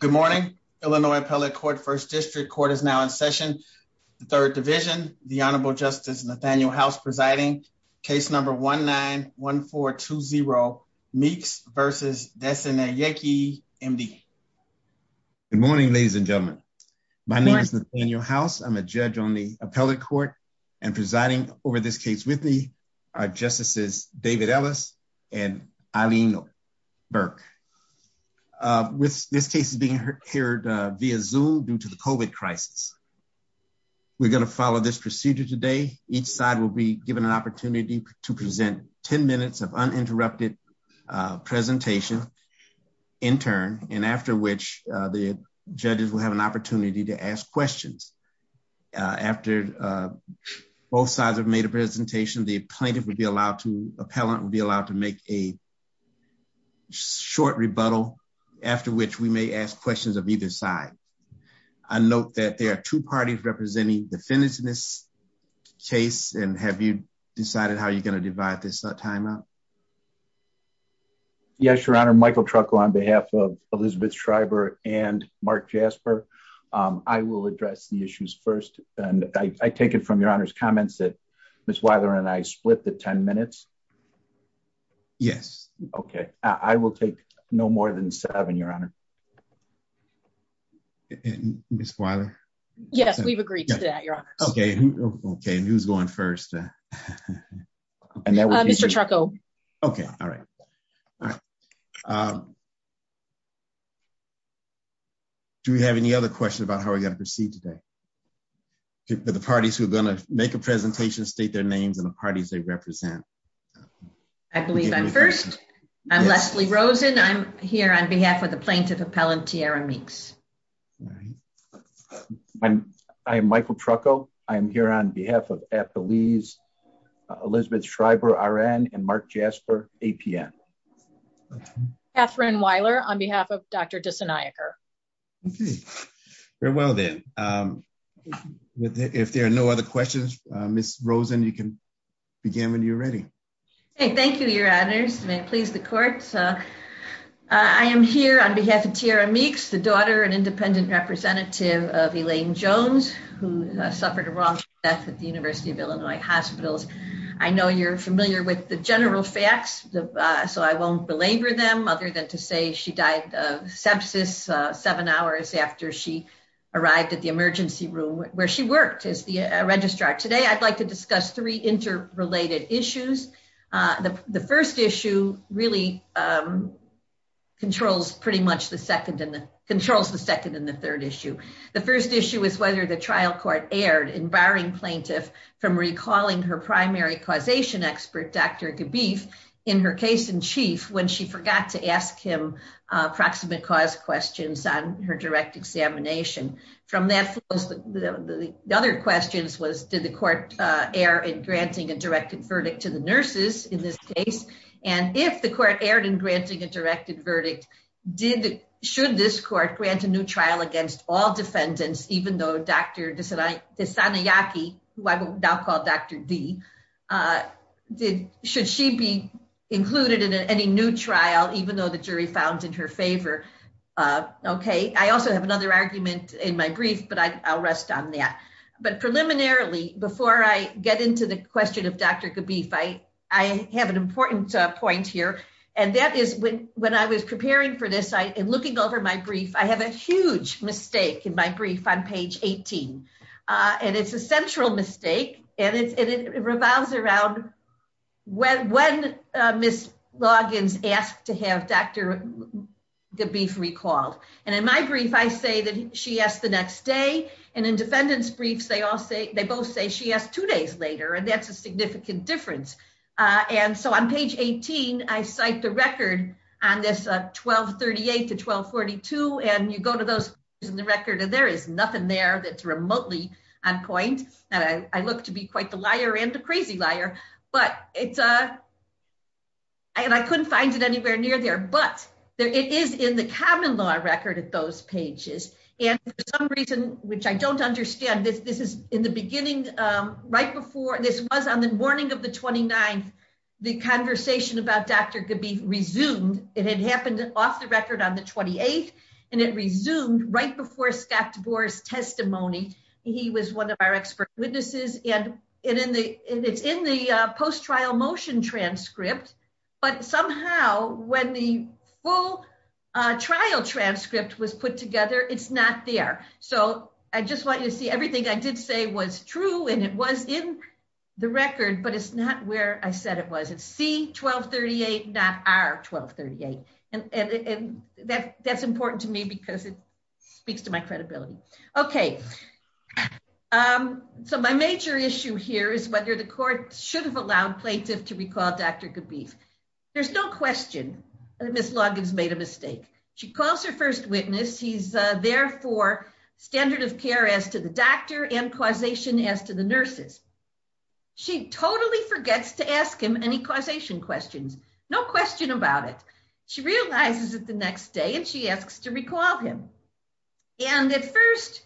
Good morning. Illinois Appellate Court First District Court is now in session, the Third Division. The Honorable Justice Nathaniel House presiding. Case number 1-9-1420, Meeks v. Nesanayake, MD. Good morning, ladies and gentlemen. My name is Nathaniel House. I'm a judge on the Appellate Court and presiding over this case with me are Justices David Ellis and Eileen Burke. This case is being heard via Zoom due to the COVID crisis. We're going to follow this procedure today. Each side will be given an opportunity to present 10 minutes of uninterrupted presentation in turn, and after which the judges will have an opportunity to ask questions. After both sides have made a presentation, the plaintiff will be allowed to, the appellant will be allowed to make a short rebuttal, after which we may ask questions of either side. I note that there are two parties representing defendants in this case, and have you decided how you're going to divide this time up? Yes, Your Honor. Michael Trucco on behalf of Elizabeth Shriver and Mark Jasper. I will address the issues first, and I take it from Your Honor's comments that Ms. Weiler and I split the 10 minutes? Yes. Okay. I will take no more than seven, Your Honor. Ms. Weiler? Yes, we've agreed to that, Your Honor. Okay, who's going first? Mr. Trucco. Okay, all right. Do we have any other questions about how we're going to proceed today? For the parties who are going to make a presentation, state their names and the parties they represent. I believe I'm first. I'm Leslie Rosen. I'm here on behalf of the plaintiff appellant, Tiara Meeks. I am Michael Trucco. I'm here on behalf of Appellees Elizabeth Shriver, RN, and Mark Jasper, APN. Katherine Weiler on behalf of Dr. Diseniaker. Okay, very well then. If there are no other questions, Ms. Rosen, you can begin when you're ready. Okay, thank you, Your Honor. May it please the court. I am here on behalf of Tiara Meeks, the daughter and independent representative of Elaine Jones, who suffered a wrongful death at the University of Illinois Hospital. I know you're familiar with the general facts, so I won't belabor them other than to say she died of sepsis seven hours after she arrived at the emergency room where she worked as the registrar. Today, I'd like to discuss three interrelated issues. The first issue really controls pretty much the second and the third issue. The first issue is whether the trial court erred in barring plaintiff from recalling her primary causation expert, Dr. Gabeef, in her case in chief when she forgot to ask him approximate cause questions on her direct examination. The other question was, did the court err in granting a directed verdict to the nurses in this case? And if the court erred in granting a directed verdict, should this court grant a new trial against all defendants, even though Dr. Diseniaker, who I will now call Dr. D, should she be included in any new trial, even though the jury found in her favor? I also have another argument in my brief, but I'll rest on that. But preliminarily, before I get into the question of Dr. Gabeef, I have an important point here, and that is when I was preparing for this and looking over my brief, I have a huge mistake in my brief on page 18. And it's a central mistake, and it revolves around when Ms. Loggins asked to have Dr. Gabeef recalled. And in my brief, I say that she asked the next day, and in defendants' briefs, they both say she asked two days later, and that's a significant difference. And so on page 18, I cite the record on this 1238 to 1242, and you go to those pages in the record, and there is nothing there that's remotely on point, and I look to be quite the liar and the crazy liar. And I couldn't find it anywhere near there, but it is in the common law record of those pages. And for some reason, which I don't understand, this is in the beginning, right before, this was on the morning of the 29th, the conversation about Dr. Gabeef resumed. It had happened off the record on the 28th, and it resumed right before Scott Gore's testimony. He was one of our expert witnesses, and it's in the post-trial motion transcript, but somehow, when the full trial transcript was put together, it's not there. So I just want you to see everything I did say was true, and it was in the record, but it's not where I said it was. It's C1238, not R1238. And that's important to me because it speaks to my credibility. Okay, so my major issue here is whether the court should have allowed Places to recall Dr. Gabeef. There's no question that Ms. Longin's made a mistake. She calls her first witness. He's there for standard of care as to the doctor and causation as to the nurses. She totally forgets to ask him any causation questions, no question about it. She realizes it the next day, and she asks to recall him. And at first,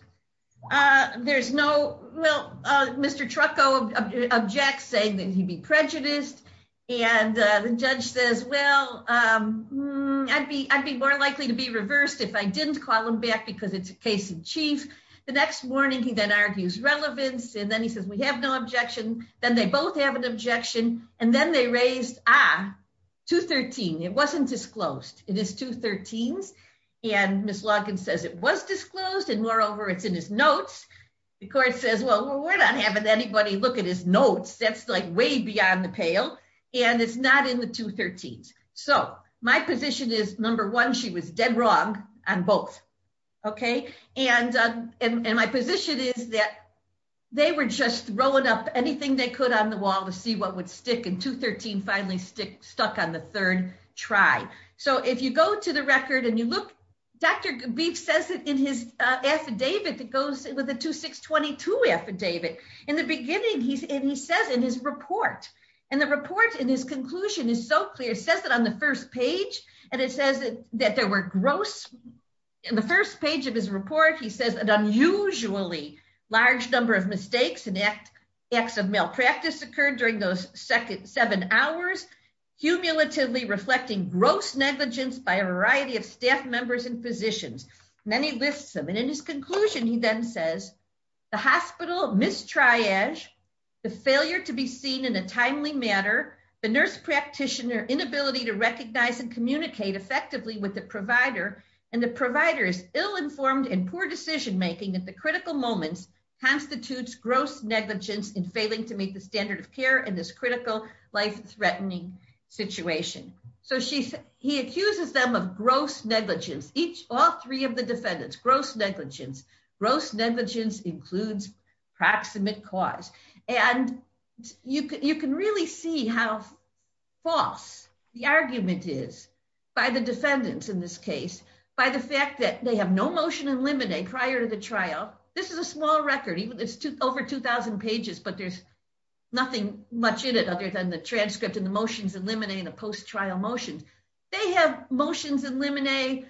there's no, well, Mr. Trucco objects saying that he'd be prejudiced, and the judge says, well, I'd be more likely to be reversed if I didn't call him back because it's a case in chief. The next morning, he then argues relevance, and then he says, we have no objection. Then they both have an objection, and then they raise, ah, 213. It wasn't disclosed. It is 213, and Ms. Longin says it was disclosed, and moreover, it's in his notes. The court says, well, we're not having anybody look at his notes. That's, like, way beyond the pale, and it's not in the 213s. So my position is, number one, she was dead wrong on both, okay? And my position is that they were just rolling up anything they could on the wall to see what would stick, and 213 finally stuck on the third try. So if you go to the record and you look, Dr. Grief says it in his affidavit. It goes, it was a 2622 affidavit. In the beginning, and he says in his report, and the report in his conclusion is so clear. It says it on the first page, and it says that there were gross, in the first page of his report, he says an unusually large number of mistakes and acts of malpractice occurred during those seven hours, cumulatively reflecting gross negligence by a variety of staff members and physicians. Then he lists them, and in his conclusion, he then says, the hospital mistriage, the failure to be seen in a timely manner, the nurse practitioner inability to recognize and communicate effectively with the provider, and the provider's ill-informed and poor decision-making at the critical moment constitutes gross negligence in failing to meet the standards of care in this critical, life-threatening situation. So he accuses them of gross negligence, all three of the defendants, gross negligence. Gross negligence includes proximate cause. And you can really see how false the argument is by the defendants in this case, by the fact that they have no motion in limine prior to the trial. This is a small record. It's over 2,000 pages, but there's nothing much in it other than the transcript and the motions in limine and the post-trial motions. They have motions in limine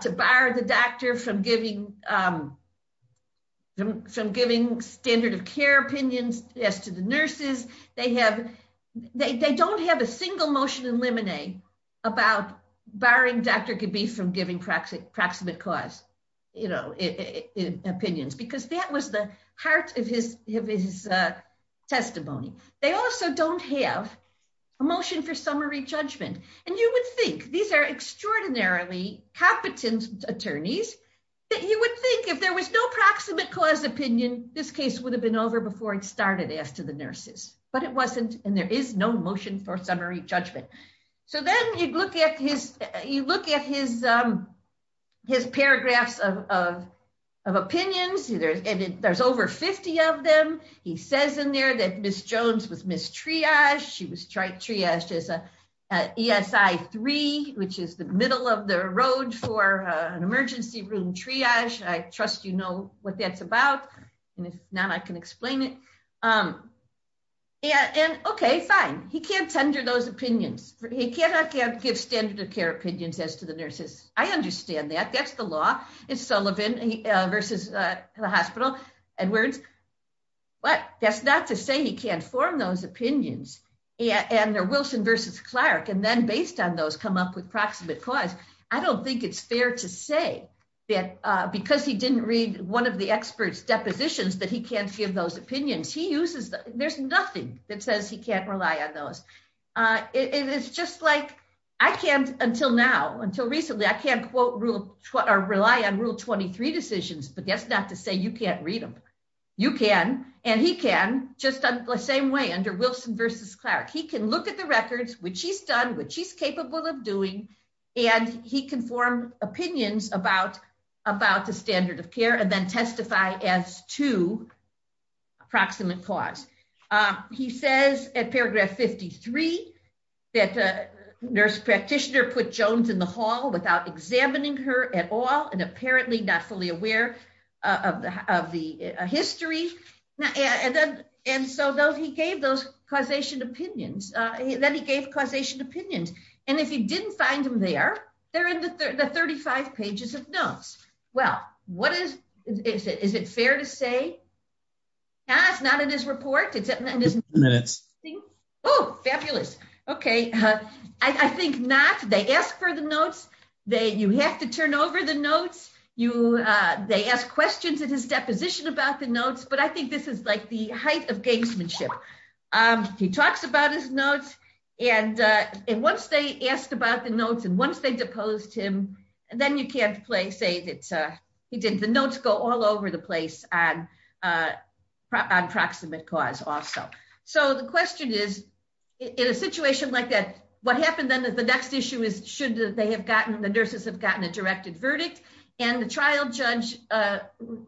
to bar the doctor from giving standard of care opinions as to the nurses. They don't have a single motion in limine about barring Dr. Gabee from giving proximate cause opinions, because that was the heart of his testimony. They also don't have a motion for summary judgment. And you would think, these are extraordinarily competent attorneys, that you would think if there was no proximate cause opinion, this case would have been over before it started after the nurses. But it wasn't, and there is no motion for summary judgment. So then you look at his paragraphs of opinions, and there's over 50 of them. He says in there that Ms. Jones was mistriaged. She was triaged as ESI 3, which is the middle of the road for an emergency room triage. I trust you know what that's about. If not, I can explain it. And, okay, fine. He can't tender those opinions. He cannot give standard of care opinions as to the nurses. I understand that. That's the law. It's Sullivan versus the hospital. But that's not to say he can't form those opinions. And the Wilson versus Clark, and then based on those, come up with proximate cause. I don't think it's fair to say that because he didn't read one of the experts' depositions, that he can't give those opinions. There's nothing that says he can't rely on those. It is just like I can't until now, until recently, I can't quote or rely on Rule 23 decisions, but that's not to say you can't read them. You can, and he can, just the same way under Wilson versus Clark. He can look at the records, which he's done, which he's capable of doing, and he can form opinions about the standard of care and then testify as to proximate cause. He says at paragraph 53 that a nurse practitioner put Jones in the hall without examining her at all and apparently not fully aware of the history. And so he gave those causation opinions. Then he gave causation opinions. And if he didn't find them there, they're in the 35 pages of notes. Well, what is it? Is it fair to say? Not in his report? Oh, fabulous. Okay. I think not. They ask for the notes. You have to turn over the notes. They ask questions in his deposition about the notes, but I think this is like the height of gamesmanship. He talks about his notes. And once they asked about the notes and once they deposed him, then you can't say that the notes go all over the place on proximate cause also. So the question is, in a situation like that, what happens then is the next issue is should they have gotten, the nurses have gotten a directed verdict, and the trial judge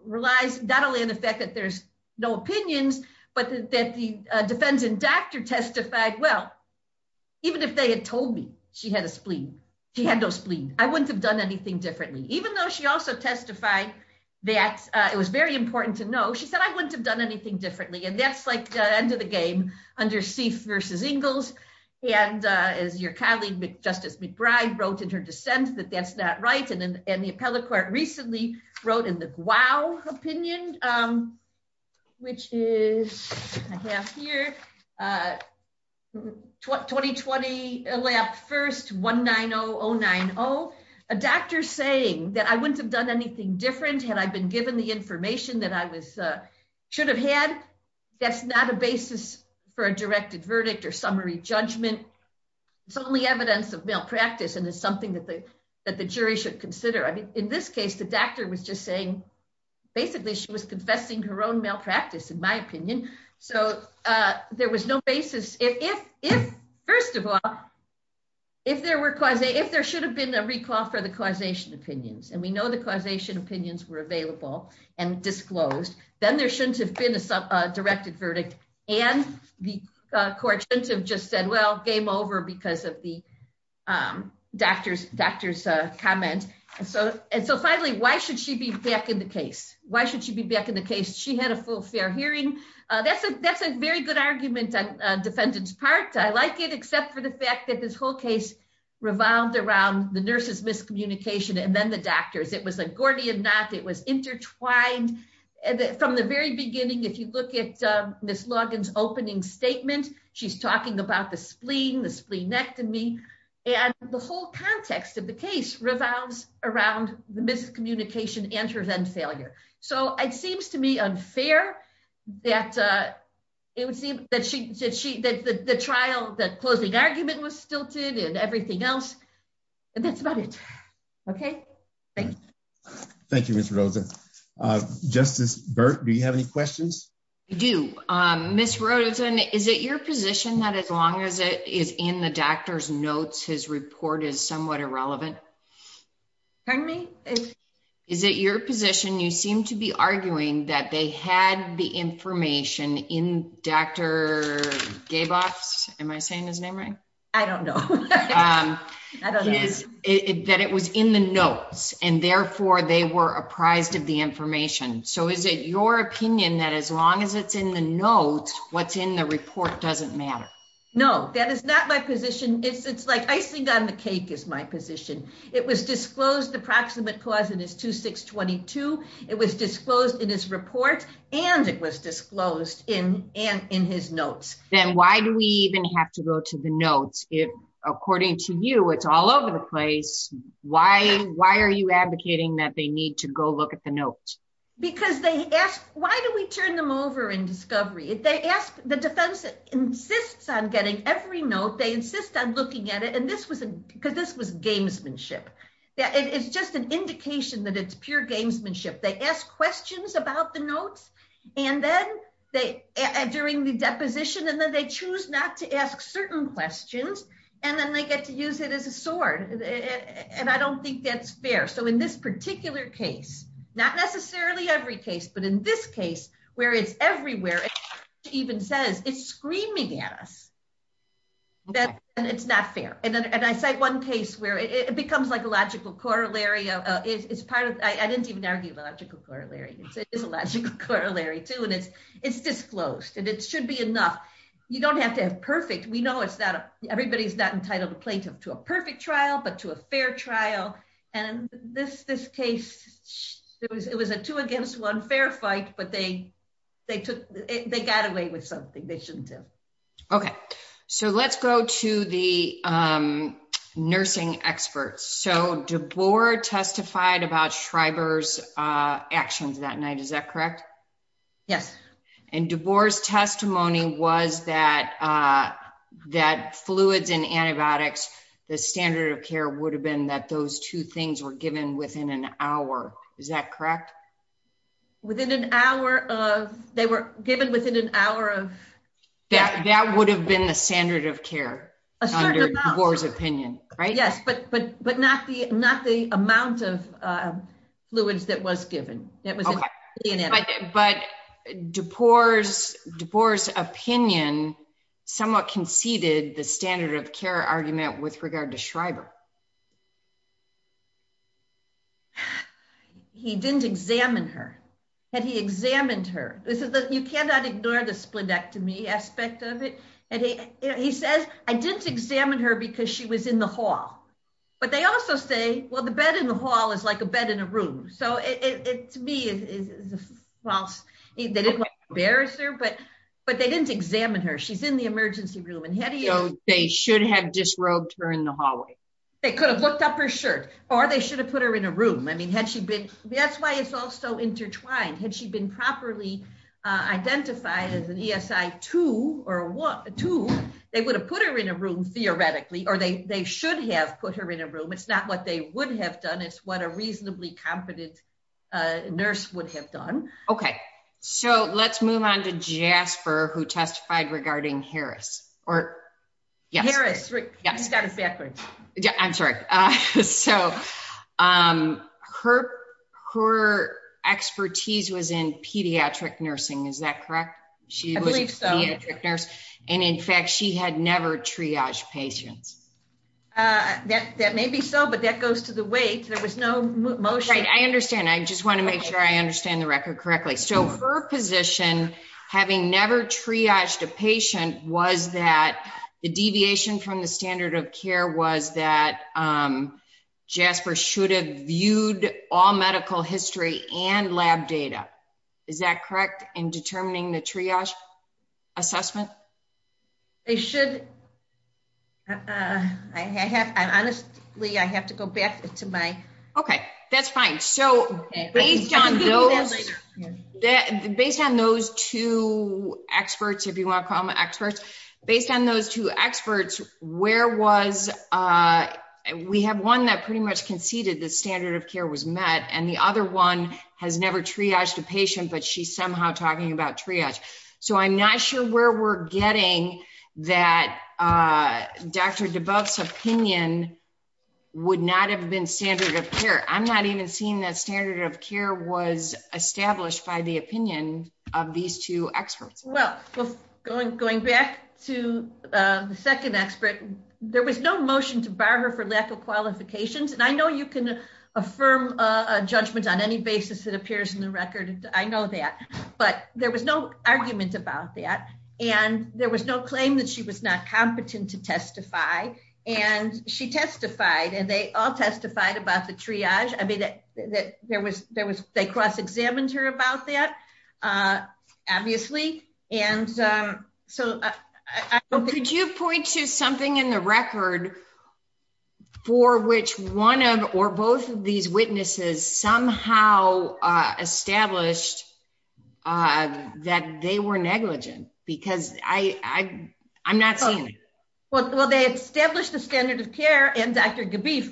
relies not only on the fact that there's no opinions, but that the defendant doctor testified, well, even if they had told me she had a spleen, she had no spleen, I wouldn't have done anything differently. Even though she also testified that it was very important to know, she said, I wouldn't have done anything differently. And that's like the end of the game under Seif versus Ingalls. And your colleague, Justice McBride, wrote in her dissent that that's not right. And the appellate court recently wrote in the Guow opinion, which is, I have here, 2020, July 1st, 19090, a doctor saying that I wouldn't have done anything different had I been given the information that I should have had. That's not a basis for a directed verdict or summary judgment. It's only evidence of malpractice, and it's something that the jury should consider. In this case, the doctor was just saying, basically, she was confessing her own malpractice, in my opinion. So there was no basis. First of all, if there should have been a recall for the causation opinions, and we know the causation opinions were available and disclosed, then there shouldn't have been a directed verdict. And the court shouldn't have just said, well, game over because of the doctor's comment. And so finally, why should she be back in the case? Why should she be back in the case? She had a full, fair hearing. That's a very good argument on the defendant's part. I like it, except for the fact that this whole case revolved around the nurse's miscommunication and then the doctor's. It was a Gordian knot. It was intertwined. From the very beginning, if you look at Ms. Logan's opening statement, she's talking about the spleen, the spleen next to me. And the whole context of the case revolves around the miscommunication, answers and failure. So it seems to me unfair that the trial, that closing argument was stilted and everything else, and that's about it. Okay? Thank you. Thank you, Ms. Rosen. Justice Burt, do you have any questions? I do. Ms. Rosen, is it your position that as long as it is in the doctor's notes, his report is somewhat irrelevant? Pardon me? Is it your position, you seem to be arguing, that they had the information in Dr. Daboff's, am I saying his name right? I don't know. That it was in the notes, and therefore they were apprised of the information. So is it your opinion that as long as it's in the notes, what's in the report doesn't matter? No, that is not my position. It's like icing on the cake is my position. It was disclosed, the proximate clause in his 2622, it was disclosed in his report, and it was disclosed in his notes. Then why do we even have to go to the notes if, according to you, it's all over the place? Why are you advocating that they need to go look at the notes? Because they ask, why do we turn them over in discovery? The defense insists on getting every note, they insist on looking at it, because this was gamesmanship. It's just an indication that it's pure gamesmanship. They ask questions about the notes, and then during the deposition, and then they choose not to ask certain questions, and then they get to use it as a sword. And I don't think that's fair. So in this particular case, not necessarily every case, but in this case, where it's everywhere, it even says it's screaming at us that it's not fair. And I cite one case where it becomes like a logical corollary. I didn't even argue about a logical corollary. It's a logical corollary, too, and it's disclosed, and it should be enough. You don't have to have perfect. Everybody's not entitled to a perfect trial, but to a fair trial. And this case, it was a two against one fair fight, but they got away with something they shouldn't have. Okay. So let's go to the nursing experts. So DeBoer testified about Schreiber's actions that night. Is that correct? Yes. And DeBoer's testimony was that fluids and antibiotics, the standard of care would have been that those two things were given within an hour. Is that correct? Within an hour of they were given within an hour of... That would have been the standard of care under DeBoer's opinion, right? Yes, but not the amount of fluids that was given. But DeBoer's opinion somewhat conceded the standard of care argument with regard to Schreiber. He didn't examine her. Had he examined her? You cannot ignore the splenectomy aspect of it. He says, I didn't examine her because she was in the hall. But they also say, well, the bed in the hall is like a bed in a room. So to me, well, they didn't embarrass her, but they didn't examine her. She's in the emergency room. So they should have disrobed her in the hallway. They could have looked up her shirt, or they should have put her in a room. I mean, that's why it's all so intertwined. Had she been properly identified as an ESI 2, they would have put her in a room theoretically, or they should have put her in a room. It's not what they would have done. It's what a reasonably competent nurse would have done. Okay. So let's move on to Jasper, who testified regarding Harris. Harris, you started backwards. I'm sorry. So her expertise was in pediatric nursing. Is that correct? I believe so. She was a pediatric nurse. And in fact, she had never triaged patients. That may be so, but that goes to the weight. There was no motion. I understand. I just want to make sure I understand the record correctly. So her position, having never triaged a patient, was that the deviation from the standard of care was that Jasper should have viewed all medical history and lab data. Is that correct in determining the triage assessment? They should. Honestly, I have to go back to my. Okay. That's fine. So based on those two experts, if you want to call them experts, based on those two experts, where was we have one that pretty much conceded that standard of care was met, and the other one has never triaged a patient, but she's somehow talking about triage. So I'm not sure where we're getting that Dr. Duboff's opinion would not have been standard of care. I'm not even seeing that standard of care was established by the opinion of these two experts. Well, going back to the second expert, there was no motion to bar her for lack of qualifications. And I know you can affirm a judgment on any basis that appears in the record. I know that. But there was no argument about that. And there was no claim that she was not competent to testify. And she testified, and they all testified about the triage. I mean, they cross-examined her about that, obviously. Could you point to something in the record for which one or both of these witnesses somehow established that they were negligent? Because I'm not seeing it. Well, they established the standard of care, and Dr. Duboff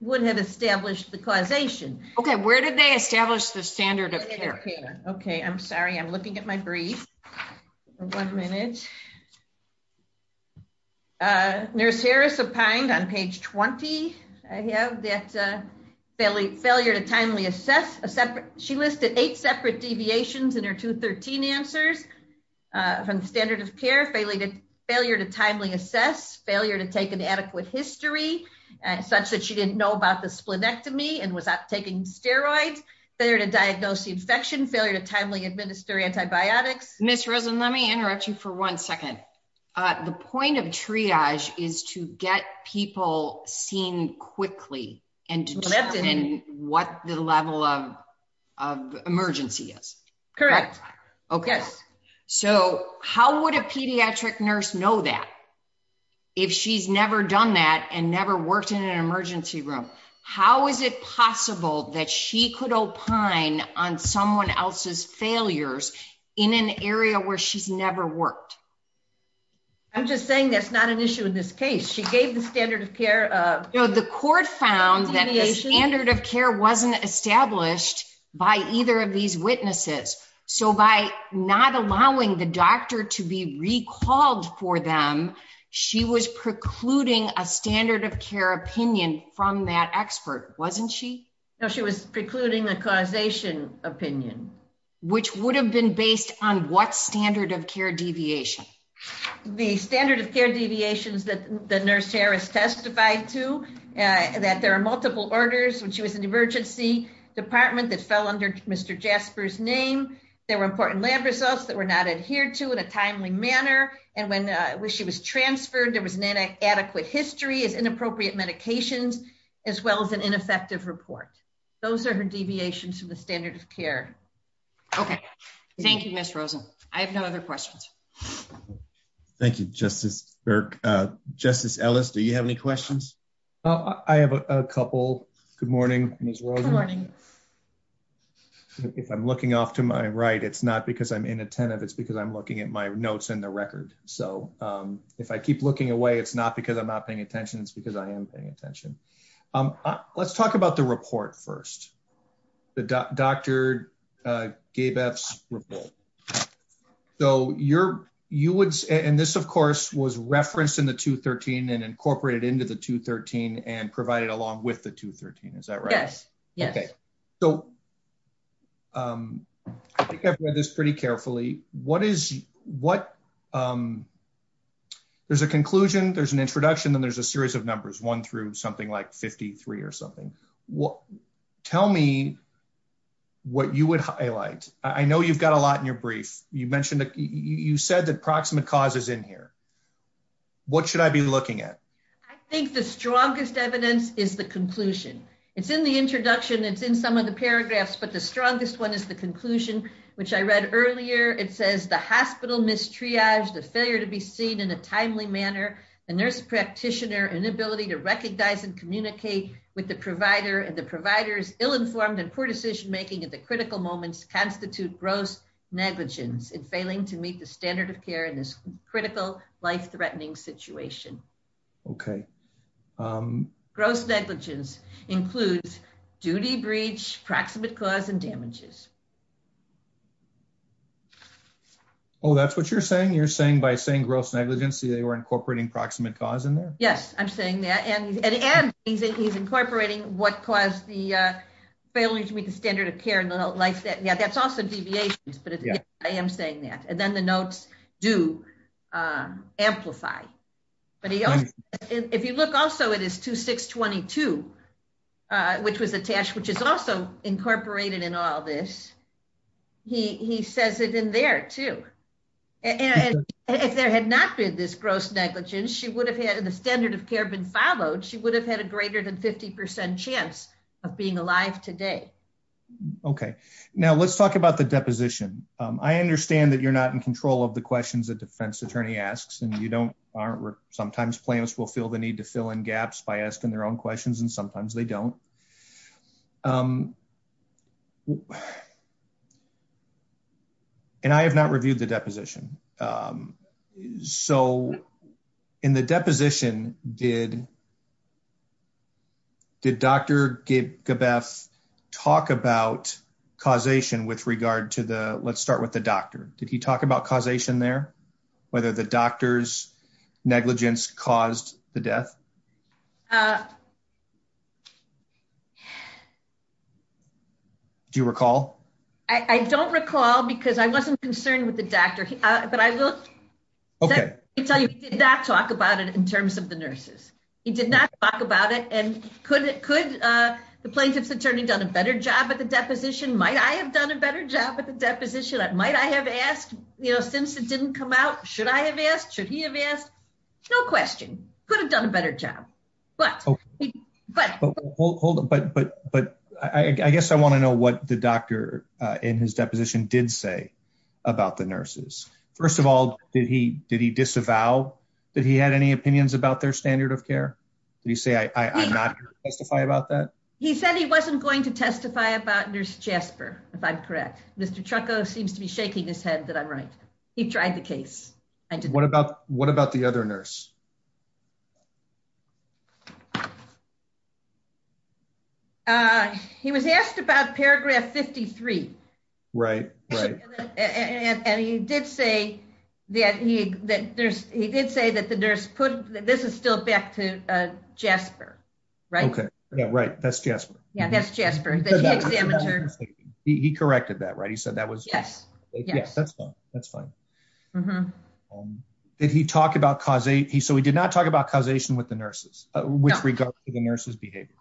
wouldn't have established the causation. Okay. Where did they establish the standard of care? Okay. I'm sorry. I'm looking at my brief. One minute. Nurse Harris opined on page 20, I have, that failure to timely assess. She listed eight separate deviations in her 213 answers from standard of care, failure to timely assess, failure to take an adequate history such that she didn't know about the splenectomy and was not taking steroids, failure to diagnose the infection, failure to timely administer antibiotics. Ms. Rosen, let me interrupt you for one second. The point of triage is to get people seen quickly and to determine what the level of emergency is. Correct. Okay. So how would a pediatric nurse know that if she's never done that and never worked in an emergency room? How is it possible that she could opine on someone else's failures in an area where she's never worked? I'm just saying that's not an issue in this case. She gave the standard of care. So the court found that the standard of care wasn't established by either of these witnesses. So by not allowing the doctor to be recalled for them, she was precluding a standard of care opinion from that expert, wasn't she? No, she was precluding a causation opinion. Which would have been based on what standard of care deviation? The standard of care deviations that the nurse Harris testified to, that there are multiple orders, when she was in the emergency department that fell under Mr. Jasper's name, there were important lab results that were not adhered to in a timely manner, and when she was transferred there was inadequate history of inappropriate medications as well as an ineffective report. Those are the deviations from the standard of care. Okay. Thank you, Ms. Rosen. I have no other questions. Thank you, Justice Burke. Justice Ellis, do you have any questions? I have a couple. Good morning, Ms. Rosen. If I'm looking off to my right, it's not because I'm inattentive. It's because I'm looking at my notes in the record. So if I keep looking away, it's not because I'm not paying attention. It's because I am paying attention. Let's talk about the report first, Dr. Gabeff's report. And this, of course, was referenced in the 213 and incorporated into the 213 and provided along with the 213. Is that right? Yes. Okay. So I think I've read this pretty carefully. There's a conclusion, there's an introduction, and there's a series of numbers, one through something like 53 or something. Tell me what you would highlight. I know you've got a lot in your brief. You mentioned that you said that proximate cause is in here. What should I be looking at? I think the strongest evidence is the conclusion. It's in the introduction. It's in some of the paragraphs. But the strongest one is the conclusion, which I read earlier. It says the hospital mistriaged, the failure to be seen in a timely manner, a nurse practitioner, inability to recognize and communicate with the provider, and the provider's ill-informed and poor decision-making at the critical moments constitute gross negligence in failing to meet the standard of care in this critical, life-threatening situation. Okay. Gross negligence includes duty breach, proximate cause, and damages. Oh, that's what you're saying? You're saying by saying gross negligence, you were incorporating proximate cause in there? Yes, I'm saying that. And he's incorporating what caused the failure to meet the standard of care. That's also deviations, but I am saying that. And then the notes do amplify. But if you look also, it is 2622, which was attached, which is also incorporated in all this. He says it in there, too. If there had not been this gross negligence, she would have had the standard of care been followed. She would have had a greater than 50% chance of being alive today. Okay. Now, let's talk about the deposition. I understand that you're not in control of the questions the defense attorney asks, and you don't. Sometimes plans fulfill the need to fill in gaps by asking their own questions, and sometimes they don't. And I have not reviewed the deposition. So, in the deposition, did Dr. Gebeth talk about causation with regard to the, let's start with the doctor. Did he talk about causation there, whether the doctor's negligence caused the death? Do you recall? I don't recall because I wasn't concerned with the doctor, but I looked. Okay. He did not talk about it in terms of the nurses. He did not talk about it. And could the plaintiff's attorney have done a better job at the deposition? Might I have done a better job at the deposition? Might I have asked since it didn't come out? Should I have asked? Should he have asked? No question. Could have done a better job. But I guess I want to know what the doctor in his deposition did say about the nurses. First of all, did he disavow that he had any opinions about their standard of care? Did he say, I'm not going to testify about that? He said he wasn't going to testify about Nurse Jasper, if I'm correct. Mr. Trucco seems to be shaking his head that I'm right. He tried the case. What about the other nurse? He was asked about paragraph 53. Right. Right. And he did say that the nurse put, this is still back to Jasper, right? Okay. Yeah, right. That's Jasper. Yeah, that's Jasper. He corrected that, right? He said that was. Yes. Yes. That's fine. That's fine. Did he talk about cause eight? So he did not talk about causation with the nurses with regard to the nurse's behavior?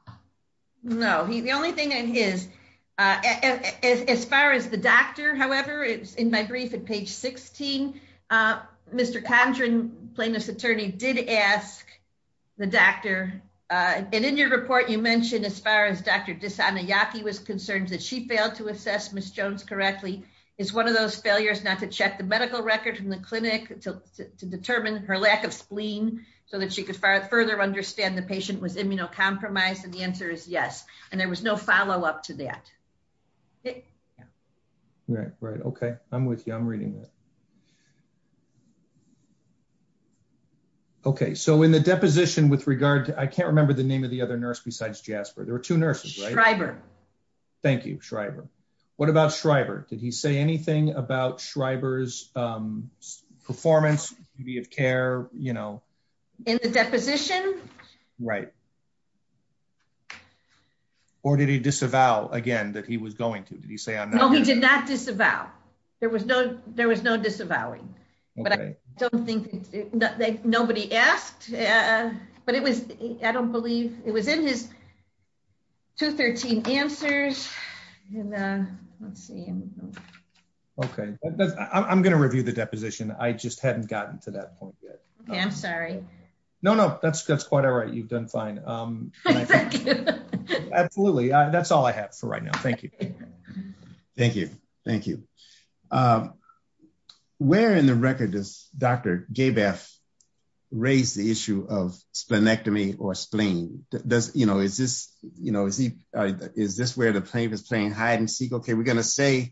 No. The only thing is, as far as the doctor, however, in my brief at page 16, Mr. Condren, plaintiff's attorney, did ask the doctor, and in your report you mentioned as far as Dr. Disanayake was concerned that she failed to assess Ms. Jones correctly. Is one of those failures not to check the medical record from the clinic to determine her lack of spleen so that she could further understand the patient was immunocompromised? And the answer is yes. And there was no follow-up to that. Okay. Yeah. Right. Right. Okay. I'm with you. I'm reading this. Okay. So in the deposition with regard to, I can't remember the name of the other nurse besides Jasper. There were two nurses, right? Shriver. Thank you, Shriver. What about Shriver? Did he say anything about Shriver's performance, be of care, you know? In the deposition? Right. Or did he disavow, again, that he was going to? Did he say on that? No, he did not disavow. There was no disavowing. Okay. But I don't think nobody asked. But it was, I don't believe, it was in his 213 answers. Let's see. Okay. I'm going to review the deposition. I just haven't gotten to that point yet. Okay. I'm sorry. No, no. That's quite all right. You've done fine. Thank you. Absolutely. That's all I have for right now. Thank you. Thank you. Thank you. Where in the record does Dr. Gabas raise the issue of sphenectomy or spleen? You know, is this where the plaintiff is saying hide and seek? Okay, we're going to say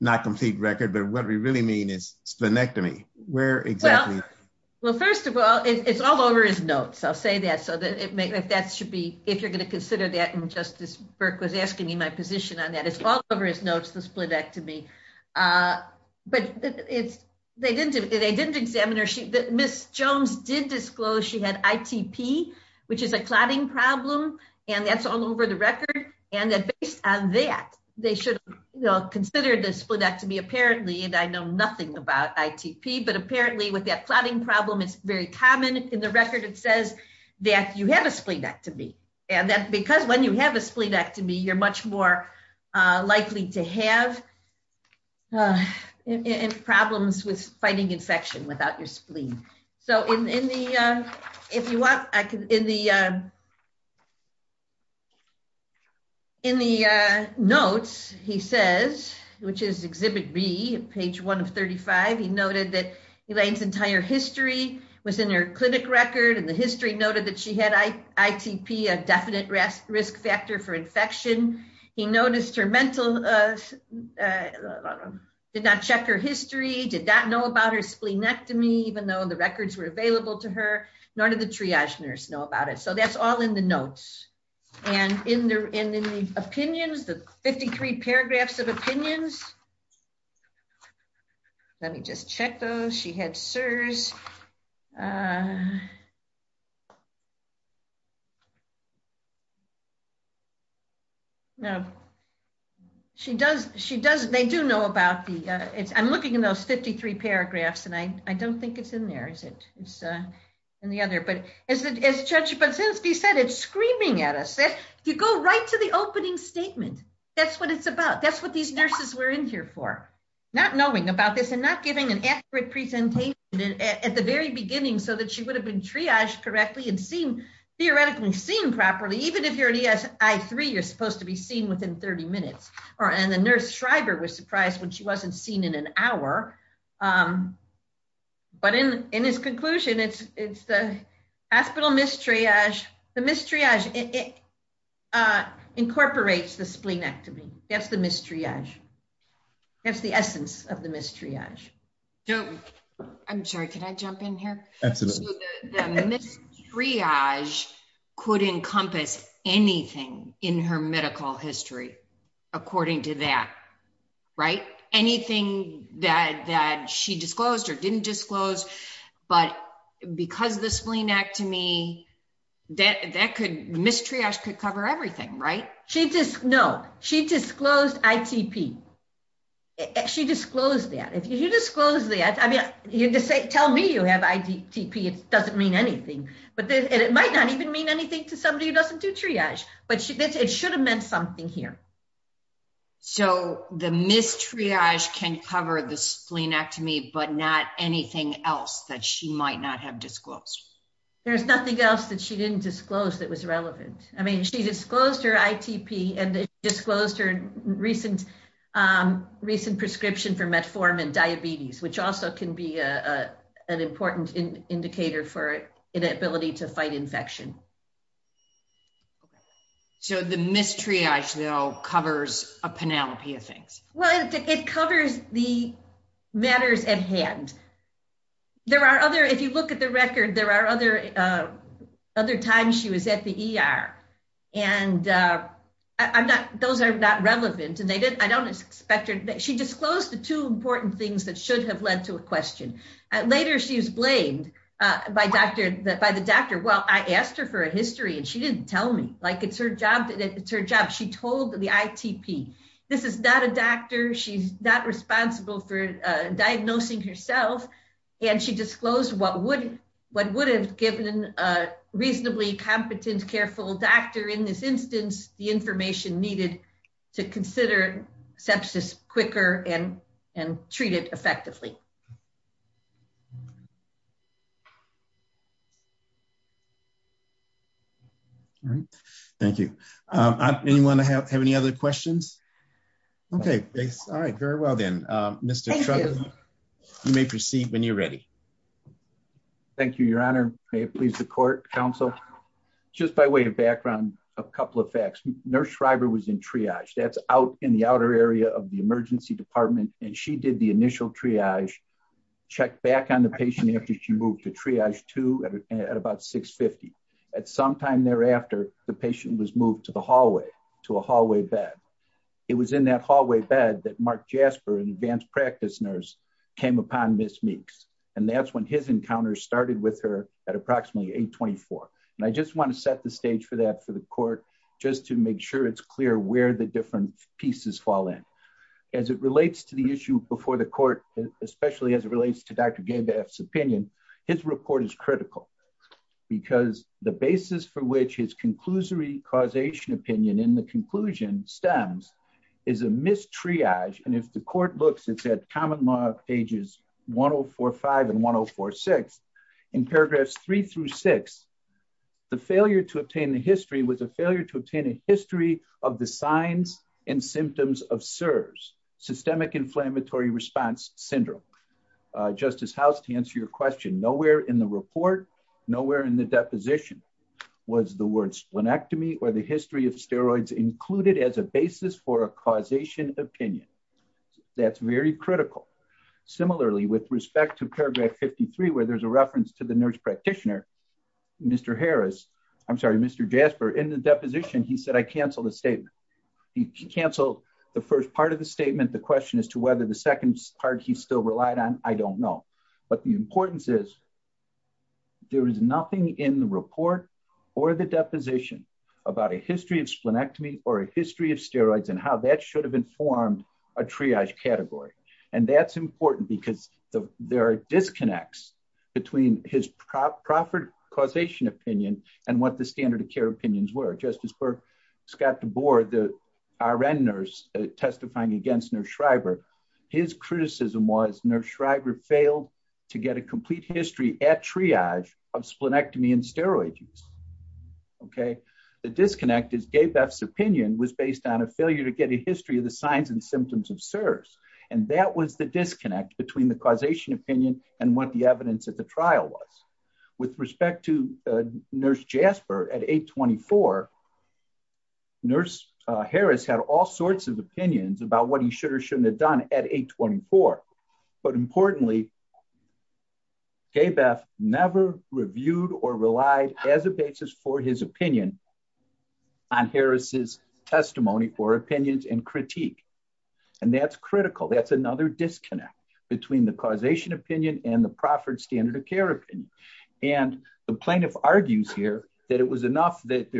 not complete record, but what we really mean is sphenectomy. Where exactly? Well, first of all, it's all over his notes. I'll say that. That should be, if you're going to consider that, and Justice Burke was asking me my position on that. It's all over his notes, the sphenectomy. But they didn't examine her. Ms. Jones did disclose she had ITP. Which is a clotting problem, and that's all over the record. And based on that, they should consider the sphenectomy. Apparently, and I know nothing about ITP, but apparently with that clotting problem, it's very common. In the record, it says that you have a sphenectomy. And that's because when you have a sphenectomy, you're much more likely to have problems with fighting infection without your spleen. So in the notes, he says, which is Exhibit B, page 1 of 35, he noted that Elaine's entire history was in her clinic record, and the history noted that she had ITP, a definite risk factor for infection. He noticed her mental, did not check her history, did not know about her spleenectomy, even though the records were available to her. None of the triage nurses know about it. So that's all in the notes. And in the opinions, the 53 paragraphs of opinions, let me just check those. She had SIRS. She does, they do know about these. I'm looking in those 53 paragraphs, and I don't think it's in there, is it? It's in the other. But as Judge Basisti said, it's screaming at us. You go right to the opening statement. That's what it's about. That's what these nurses were in here for. Not knowing about this and not giving an accurate presentation at the very beginning so that she would have been triaged correctly and theoretically seen properly, even if your ESI-3 is supposed to be seen within 30 minutes. And the nurse Shriver was surprised when she wasn't seen in an hour. But in his conclusion, it's the hospital mistriage. The mistriage incorporates the spleenectomy. That's the mistriage. That's the essence of the mistriage. I'm sorry, can I jump in here? Absolutely. The mistriage could encompass anything in her medical history, according to that, right? Anything that she disclosed or didn't disclose, but because the spleenectomy, that could, mistriage could cover everything, right? No. She disclosed ITP. She disclosed that. If you disclose that, I mean, tell me you have ITP. It doesn't mean anything. And it might not even mean anything to somebody who doesn't do triage. But it should have meant something here. So the mistriage can cover the spleenectomy, but not anything else that she might not have disclosed. There's nothing else that she didn't disclose that was relevant. I mean, she disclosed her ITP, and she disclosed her recent prescription for metformin and diabetes, which also can be an important indicator for an ability to fight infection. So the mistriage now covers a panoply of things. Well, it covers the matters at hand. If you look at the record, there are other times she was at the ER, and those are not relevant. I don't expect her to be. She disclosed the two important things that should have led to a question. Later she was blamed by the doctor. Well, I asked her for a history, and she didn't tell me. Like, it's her job. She told the ITP. This is not a doctor. She's not responsible for diagnosing herself, and she disclosed what would have given a reasonably competent, careful doctor in this instance the information needed to consider sepsis quicker and treat it effectively. Thank you. Anyone have any other questions? Okay. All right. Very well, then. Mr. Shriver, you may proceed when you're ready. Thank you, Your Honor. May it please the court, counsel. Just by way of background, a couple of facts. Nurse Shriver was in triage. That's out in the outer area of the emergency department, and she did the initial triage, checked back on the patient after she moved to triage 2 at about 6.50. At some time thereafter, the patient was moved to the hallway, to a hallway bed. It was in that hallway bed that Mark Jasper, an advanced practice nurse, came upon Ms. Meeks, and that's when his encounter started with her at approximately 8.24. And I just want to set the stage for that for the court just to make sure it's clear where the different pieces fall in. As it relates to the issue before the court, especially as it relates to Dr. Gainback's opinion, his report is critical because the basis for which his conclusory causation opinion in the conclusion stems is a missed triage. And if the court looks, it's at common law pages 1045 and 1046. In paragraphs 3 through 6, the failure to obtain a history was a failure to obtain a history of the signs and symptoms of SIRS, systemic inflammatory response syndrome. Justice House, to answer your question, nowhere in the report, nowhere in the deposition was the word splenectomy or the history of steroids included as a basis for a causation opinion. That's very critical. Similarly, with respect to paragraph 53, where there's a reference to the nurse practitioner, Mr. Harris, I'm sorry, Mr. Jasper, in the deposition, he said, I canceled the statement. He canceled the first part of the statement. The question as to whether the second part he still relied on, I don't know. But the importance is, there is nothing in the report or the deposition about a history of splenectomy or a history of steroids and how that should have informed a triage category. And that's important because there are disconnects between his proper causation opinion and what the standard of care opinions were. Justice Scott DeBoer, the RN nurse testifying against Nurse Schreiber, his criticism was Nurse Schreiber failed to get a complete history at triage of splenectomy and steroids. Okay. The disconnect is Gabe F's opinion was based on a failure to get a history of the signs and symptoms of SIRS. And that was the disconnect between the causation opinion and what the evidence of the trial was. With respect to Nurse Jasper, at 824, Nurse Harris had all sorts of opinions about what he should or shouldn't have done at 824. But importantly, Gabe F never reviewed or relied as a basis for his opinion on Harris' testimony for opinions and critique. And that's critical. That's another disconnect between the causation opinion and the proffered standard of care opinion. And the plaintiff argues here that it was enough that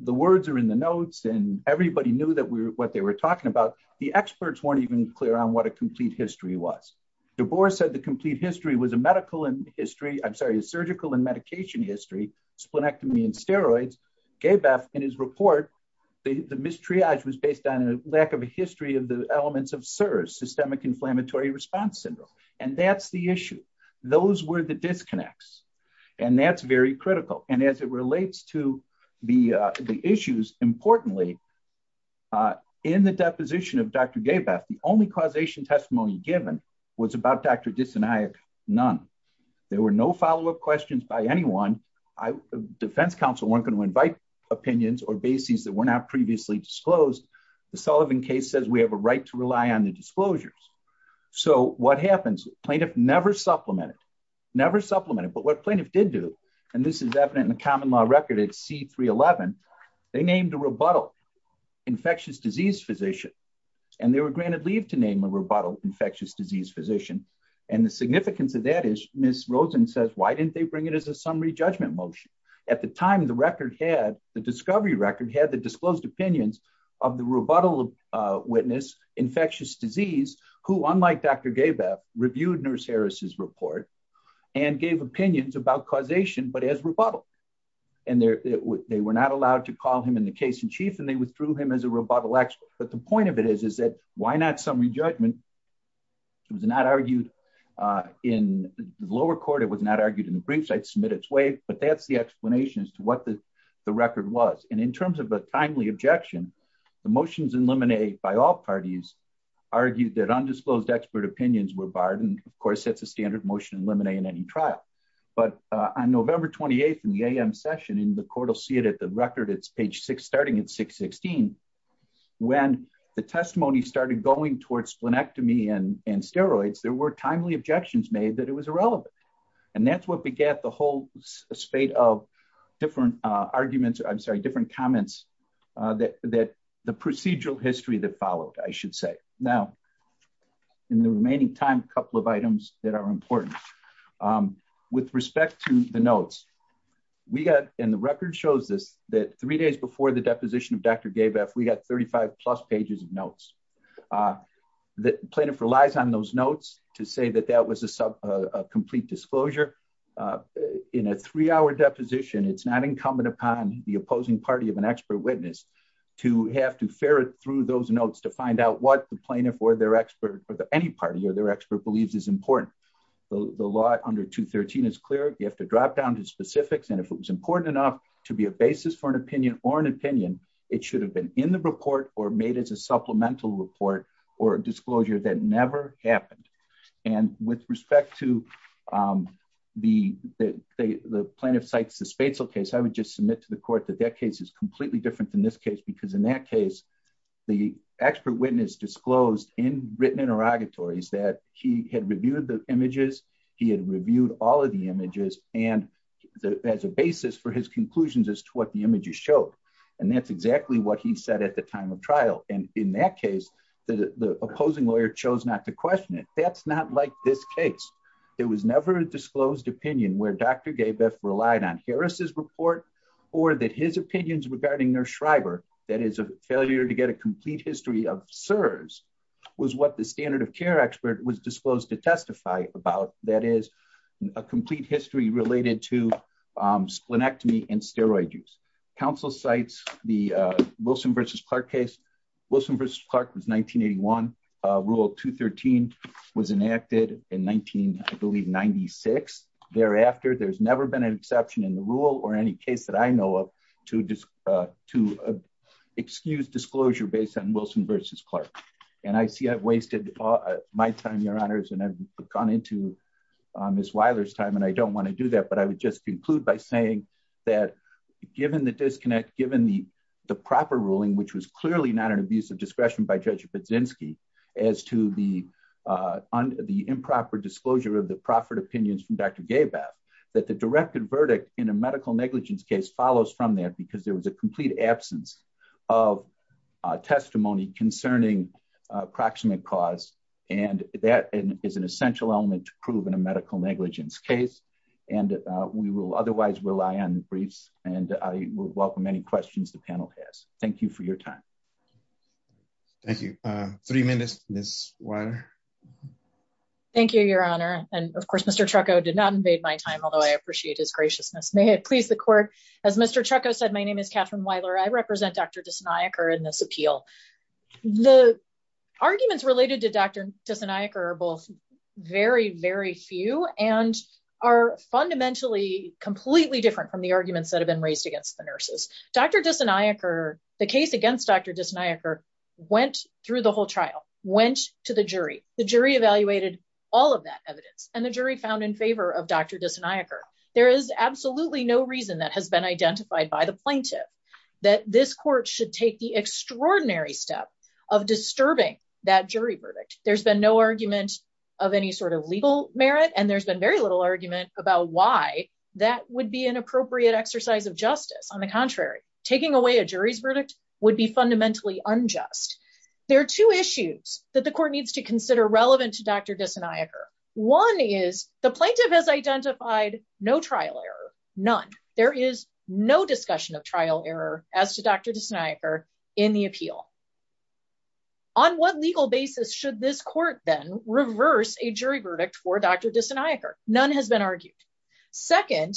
the words are in the notes and everybody knew what they were talking about. The experts weren't even clear on what a complete history was. DeBoer said the complete history was a surgical and medication history, splenectomy and steroids. Gabe F, in his report, the mistriage was based on a lack of a history of the elements of SIRS, systemic inflammatory response syndrome. And that's the issue. Those were the disconnects. And that's very critical. And as it relates to the issues, importantly, in the deposition of Dr. Gabe F, the only causation testimony given was about Dr. Dysoniac. None. There were no follow-up questions by anyone. Defense counsel weren't going to invite opinions or bases that were not previously disclosed. The Sullivan case says we have a right to rely on the disclosures. So what happens? Plaintiff never supplemented. Never supplemented. But what plaintiff did do, and this is evident in the common law record at C-311, they named a rebuttal infectious disease physician. And they were granted leave to name a rebuttal infectious disease physician. And the significance of that is Ms. Rosen says, why didn't they bring it as a summary judgment motion? At the time, the record had, the discovery record had the disclosed opinions of the rebuttal witness, infectious disease, who, unlike Dr. Gabe F, reviewed Nurse Harris' report and gave opinions about causation but as rebuttal. And they were not allowed to call him in the case in chief and they withdrew him as a rebuttal expert. But the point of it is, is that why not summary judgment? It was not argued in the lower court. It was not argued in the briefs. I'd submit its way. But that's the explanation as to what the record was. And in terms of a timely objection, the motions in limine by all parties argued that undisclosed expert opinions were barred. And, of course, that's a standard motion in limine in any trial. But on November 28th in the AM session, and the court will see it at the record, it's page 6, starting at 616, when the testimony started going towards splenectomy and steroids, there were timely objections made that it was irrelevant. And that's what begat the whole spate of different arguments, I'm sorry, different comments that the procedural history that followed, I should say. Now, in the remaining time, a couple of items that are important. With respect to the notes, we got, and the record shows this, that three days before the deposition of Dr. Dabeff, we got 35 plus pages of notes. The plaintiff relies on those notes to say that that was a complete disclosure. In a three-hour deposition, it's not incumbent upon the opposing party of an expert witness to have to ferret through those notes to find out what the plaintiff or their expert or any party or their expert believes is important. The law under 213 is clear. You have to drop down to specifics. And if it was important enough to be a basis for an opinion or an opinion, it should have been in the report or made as a supplemental report or a disclosure that never happened. And with respect to the plaintiff cites the spatial case, I would just submit to the court that that case is completely different than this case because in that case, the expert witness disclosed in written interrogatories that he had reviewed the images, he had reviewed all of the images, and as a basis for his conclusions as to what the images showed. And that's exactly what he said at the time of trial. And in that case, the opposing lawyer chose not to question it. That's not like this case. It was never a disclosed opinion where Dr. Schreiber, that is a failure to get a complete history of SERS, was what the standard of care expert was disclosed to testify about, that is, a complete history related to splenectomy and steroid use. Counsel cites the Wilson v. Clark case. Wilson v. Clark was 1981. Rule 213 was enacted in 1996. Thereafter, there's never been an exception in the rule or any case that I know of to excuse disclosure based on Wilson v. Clark. And I see I've wasted my time, Your Honors, and I've gone into Ms. Weiler's time, and I don't want to do that, but I would just conclude by saying that given the disconnect, given the proper ruling, which was clearly not an abuse of discretion by Judge Budzinski as to the improper disclosure of the proper opinions from Dr. Schreiber, I think that there is an essential element to prove in a medical negligence case, and we will otherwise rely on the briefs, and I would welcome any questions the panel has. Thank you for your time. Thank you. Three minutes, Ms. Weiler. Thank you, Your Honor. And of course, Mr. Trucco did not invade my time, although I appreciate his graciousness. May it please the court. As Mr. The arguments related to Dr. are both very, very few and are fundamentally completely different from the arguments that have been raised against the nurses. Dr. The case against Dr. went through the whole trial, went to the jury, the jury evaluated all of that evidence, and the jury found in favor of Dr. There is absolutely no reason that has been identified by the plaintiff that this court should take the extraordinary step of disturbing that jury verdict. There's been no argument of any sort of legal merit, and there's been very little argument about why that would be an appropriate exercise of justice. On the contrary, taking away a jury's verdict would be fundamentally unjust. There are two issues that the court needs to consider relevant to Dr. None. There is no discussion of trial error as to Dr. in the appeal. On what legal basis should this court then reverse a jury verdict for Dr. None has been argued. Second,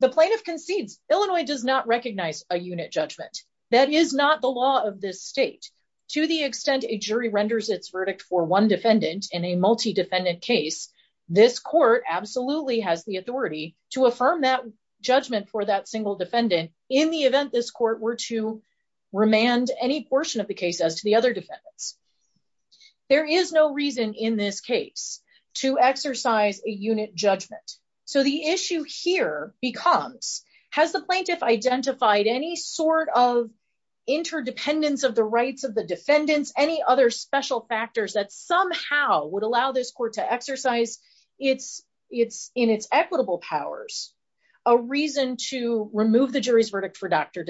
the plaintiff concedes Illinois does not recognize a unit judgment. That is not the law of this state. To the extent a jury renders its verdict for one defendant in a multi-defendant case, this court absolutely has the authority to affirm that judgment for that single defendant in the event this court were to remand any portion of the case as the other defendant. There is no reason in this case to exercise a unit judgment. So the issue here becomes, has the plaintiff identified any sort of interdependence of the rights of the defendants, any other special factors that somehow would allow this court to exercise in its equitable powers, a reason to remove the jury's verdict for Dr.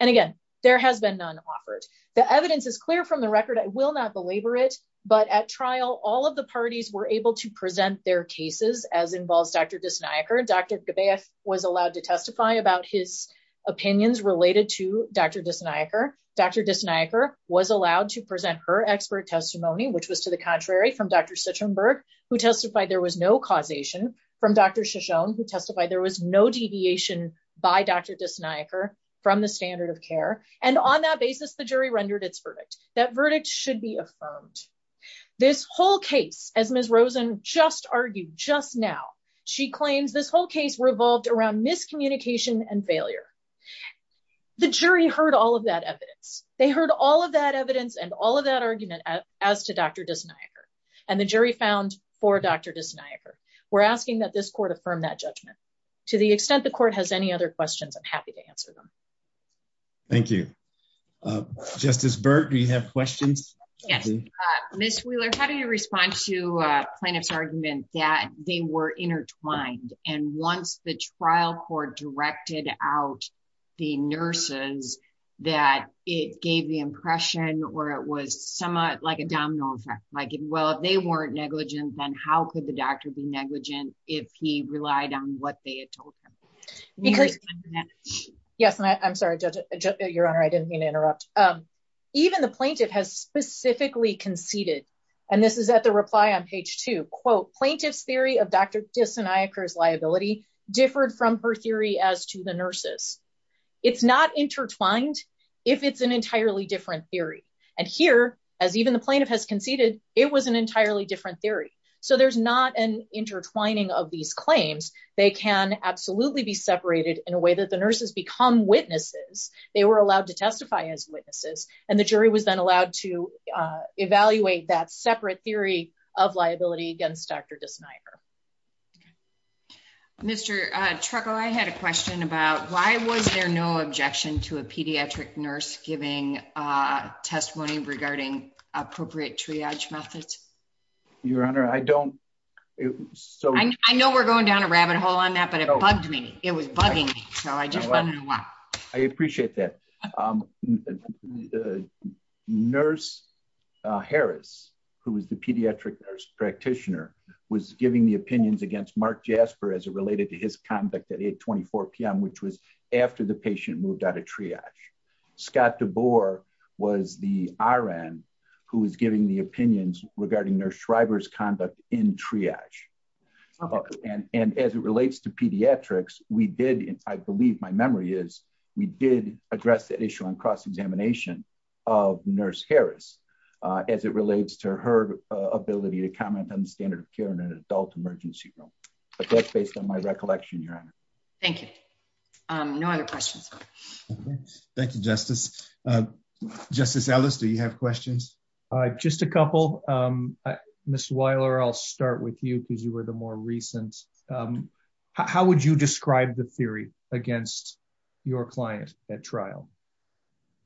And again, there has been none offered. The evidence is clear from the record. I will not belabor it. But at trial, all of the parties were able to present their cases as involves Dr. Dr. was allowed to testify about his opinions related to Dr. was allowed to present her expert testimony, which was to the contrary from Dr. who testified there was no causation from Dr. who testified there was no deviation by Dr. from the standard of care. And on that basis, the jury rendered its verdict. That verdict should be affirmed. This whole case, as Ms. just argued just now, she claims this whole case revolved around miscommunication and failure. The jury heard all of that evidence. They heard all of that evidence and all of that argument as to Dr. and the jury found for Dr. We're asking that this court affirm that judgment to the extent the court has any other questions. I'm happy to answer them. Thank you. Just as Bert, do you have questions? Yes. Ms. Wheeler, how do you respond to kind of arguments that they were intertwined? And once the trial court directed out the nurses, that it gave the impression where it was somewhat like a domino effect. Like, well, they weren't negligent. And how could the doctor be negligent if he relied on what they had told him? Yes. I'm sorry. Your Honor, I didn't mean to interrupt. Even the plaintiff has specifically conceded. And this is at the reply on page two. Quote, plaintiff's theory of Dr. liability differed from her theory as to the nurses. It's not intertwined if it's an entirely different theory. And here, as even the plaintiff has conceded, it was an entirely different theory. So there's not an intertwining of these claims. They can absolutely be separated in a way that the nurses become witnesses. They were allowed to testify as witnesses. And the jury was then allowed to evaluate that separate theory of liability against Dr. Schneider. Mr. Trucco, I had a question about why was there no objection to a pediatric nurse giving testimony regarding appropriate triage methods? Your Honor, I don't. So I know we're going down a rabbit hole on that. But it bugs me. It was bugging me. So I just. I appreciate that. Nurse Harris, who is the pediatric nurse practitioner, was giving the opinions against Mark Jasper as it related to his conduct at 24 p.m., which was after the patient moved out of triage. Scott DeBoer was the RN who was giving the opinions regarding nurse Shriver's conduct in triage. And as it relates to pediatrics, we did, I believe my memory is, we did address the issue on cross-examination of nurse Harris as it relates to her ability to comment on the standard of care in an adult emergency room. But that's based on my recollection, Your Honor. Thank you. No other questions. Thank you, Justice. Just a couple. Ms. Weiler, I'll start with you because you were the more recent. How would you describe the theory against your client at trial?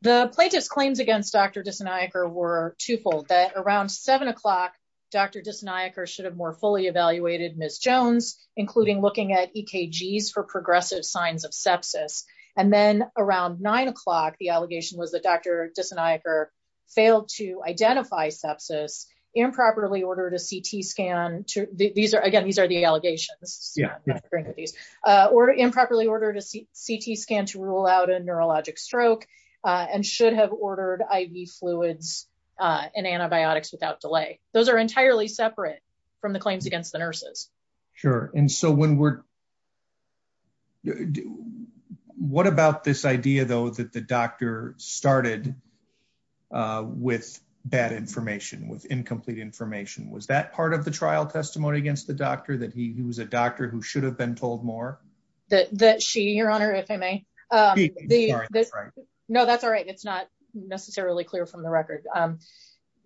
The plaintiff's claims against Dr. Diseniaker were twofold, that around 7 o'clock, Dr. Diseniaker should have more fully evaluated Ms. Jones, including looking at EKGs for progressive signs of sepsis. And then around 9 o'clock, the allegation was that Dr. Diseniaker failed to identify sepsis, improperly ordered a CT scan. Again, these are the allegations. Yeah. Or improperly ordered a CT scan to rule out a neurologic stroke and should have ordered IV fluids and antibiotics without delay. Those are entirely separate from the claims against the nurses. Sure. And so when we're – what about this idea, though, that the doctor started with bad information, with incomplete information? Was that part of the trial testimony against the doctor, that he was a doctor who should have been told more? That she, Your Honor, if I may? She. No, that's all right. It's not necessarily clear from the record.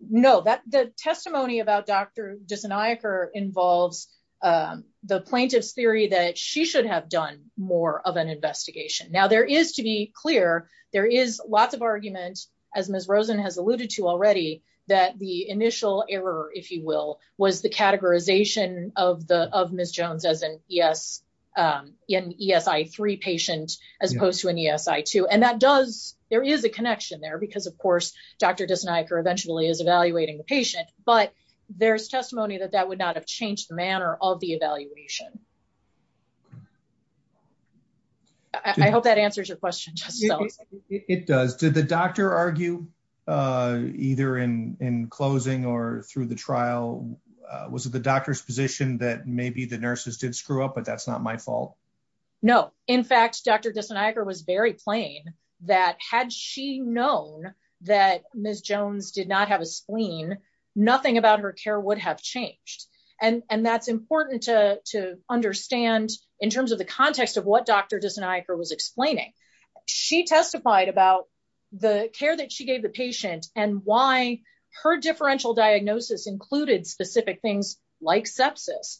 No, the testimony about Dr. Diseniaker involves the plaintiff's theory that she should have done more of an investigation. Now, there is, to be clear, there is lots of argument, as Ms. Rosen has alluded to already, that the initial error, if you will, was the categorization of Ms. Jones as an ESI-3 patient as opposed to an ESI-2. And that does – there is a connection there because, of course, Dr. Diseniaker eventually is evaluating the patient. But there's testimony that that would not have changed the manner of the evaluation. I hope that answers your question. It does. Did the doctor argue either in closing or through the trial? Was it the doctor's position that maybe the nurses did screw up, but that's not my fault? No. In fact, Dr. Diseniaker was very plain that had she known that Ms. Jones did not have a spleen, nothing about her care would have changed. And that's important to understand in terms of the context of what Dr. Diseniaker was explaining. She testified about the care that she gave the patient and why her differential diagnosis included specific things like sepsis,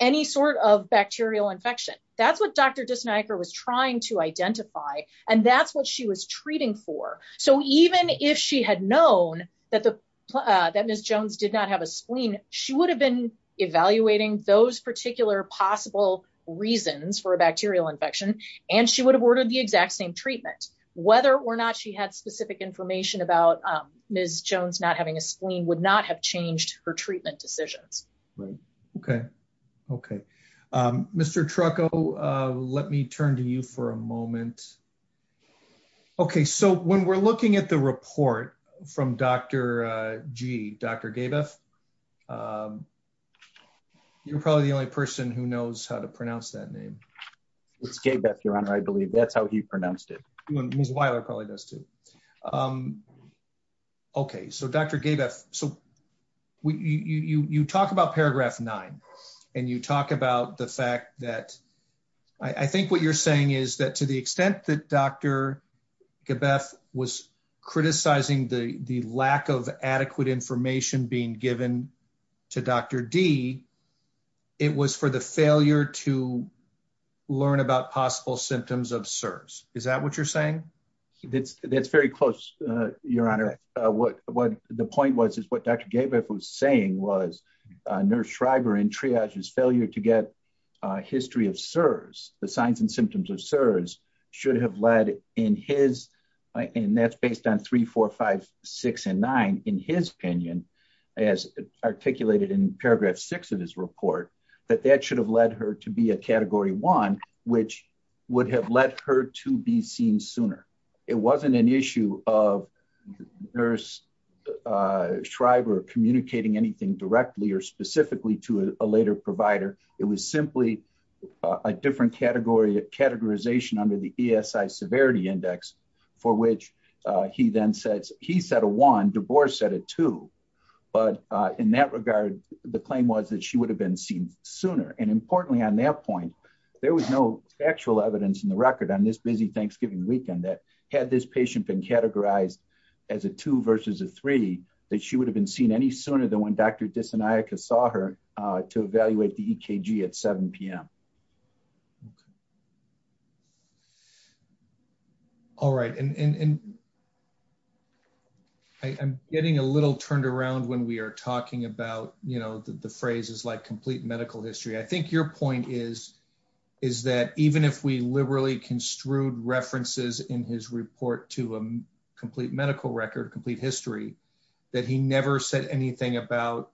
any sort of bacterial infection. That's what Dr. Diseniaker was trying to identify, and that's what she was treating for. So even if she had known that Ms. Jones did not have a spleen, she would have been evaluating those particular possible reasons for a bacterial infection, and she would have ordered the exact same treatment. Whether or not she had specific information about Ms. Jones not having a spleen would not have changed her treatment decision. Mr. Trucco, let me turn to you for a moment. Okay, so when we're looking at the report from Dr. G, Dr. Gabeff, you're probably the only person who knows how to pronounce that name. It's Gabeff, Your Honor. I believe that's how he pronounced it. Ms. Weiler probably does, too. Okay, so Dr. Gabeff, you talk about Paragraph 9, and you talk about the fact that I think what you're saying is that to the extent that Dr. Gabeff was criticizing the lack of adequate information being given to Dr. D, it was for the failure to learn about possible symptoms of SIRS. Is that what you're saying? That's very close, Your Honor. What the point was is what Dr. Gabeff was saying was Nurse Schreiber and triage's failure to get a history of SIRS, the signs and symptoms of SIRS, should have led in his, and that's based on 3, 4, 5, 6, and 9, in his opinion, as articulated in Paragraph 6 of this report, that that should have led her to be a Category 1, which would have led her to be seen sooner. It wasn't an issue of Nurse Schreiber communicating anything directly or specifically to a later provider. It was simply a different categorization under the ESI Severity Index, for which he then says, he said a 1, DeBoer said a 2. But in that regard, the claim was that she would have been seen sooner. And importantly, on that point, there was no actual evidence in the record on this busy Thanksgiving weekend that had this patient been categorized as a 2 versus a 3, that she would have been seen any sooner than when Dr. Disinayaka saw her to evaluate the EKG at 7 p.m. All right. And I'm getting a little turned around when we are talking about, you know, the phrases like complete medical history. I think your point is, is that even if we liberally construed references in his report to a complete medical record, complete history, that he never said anything about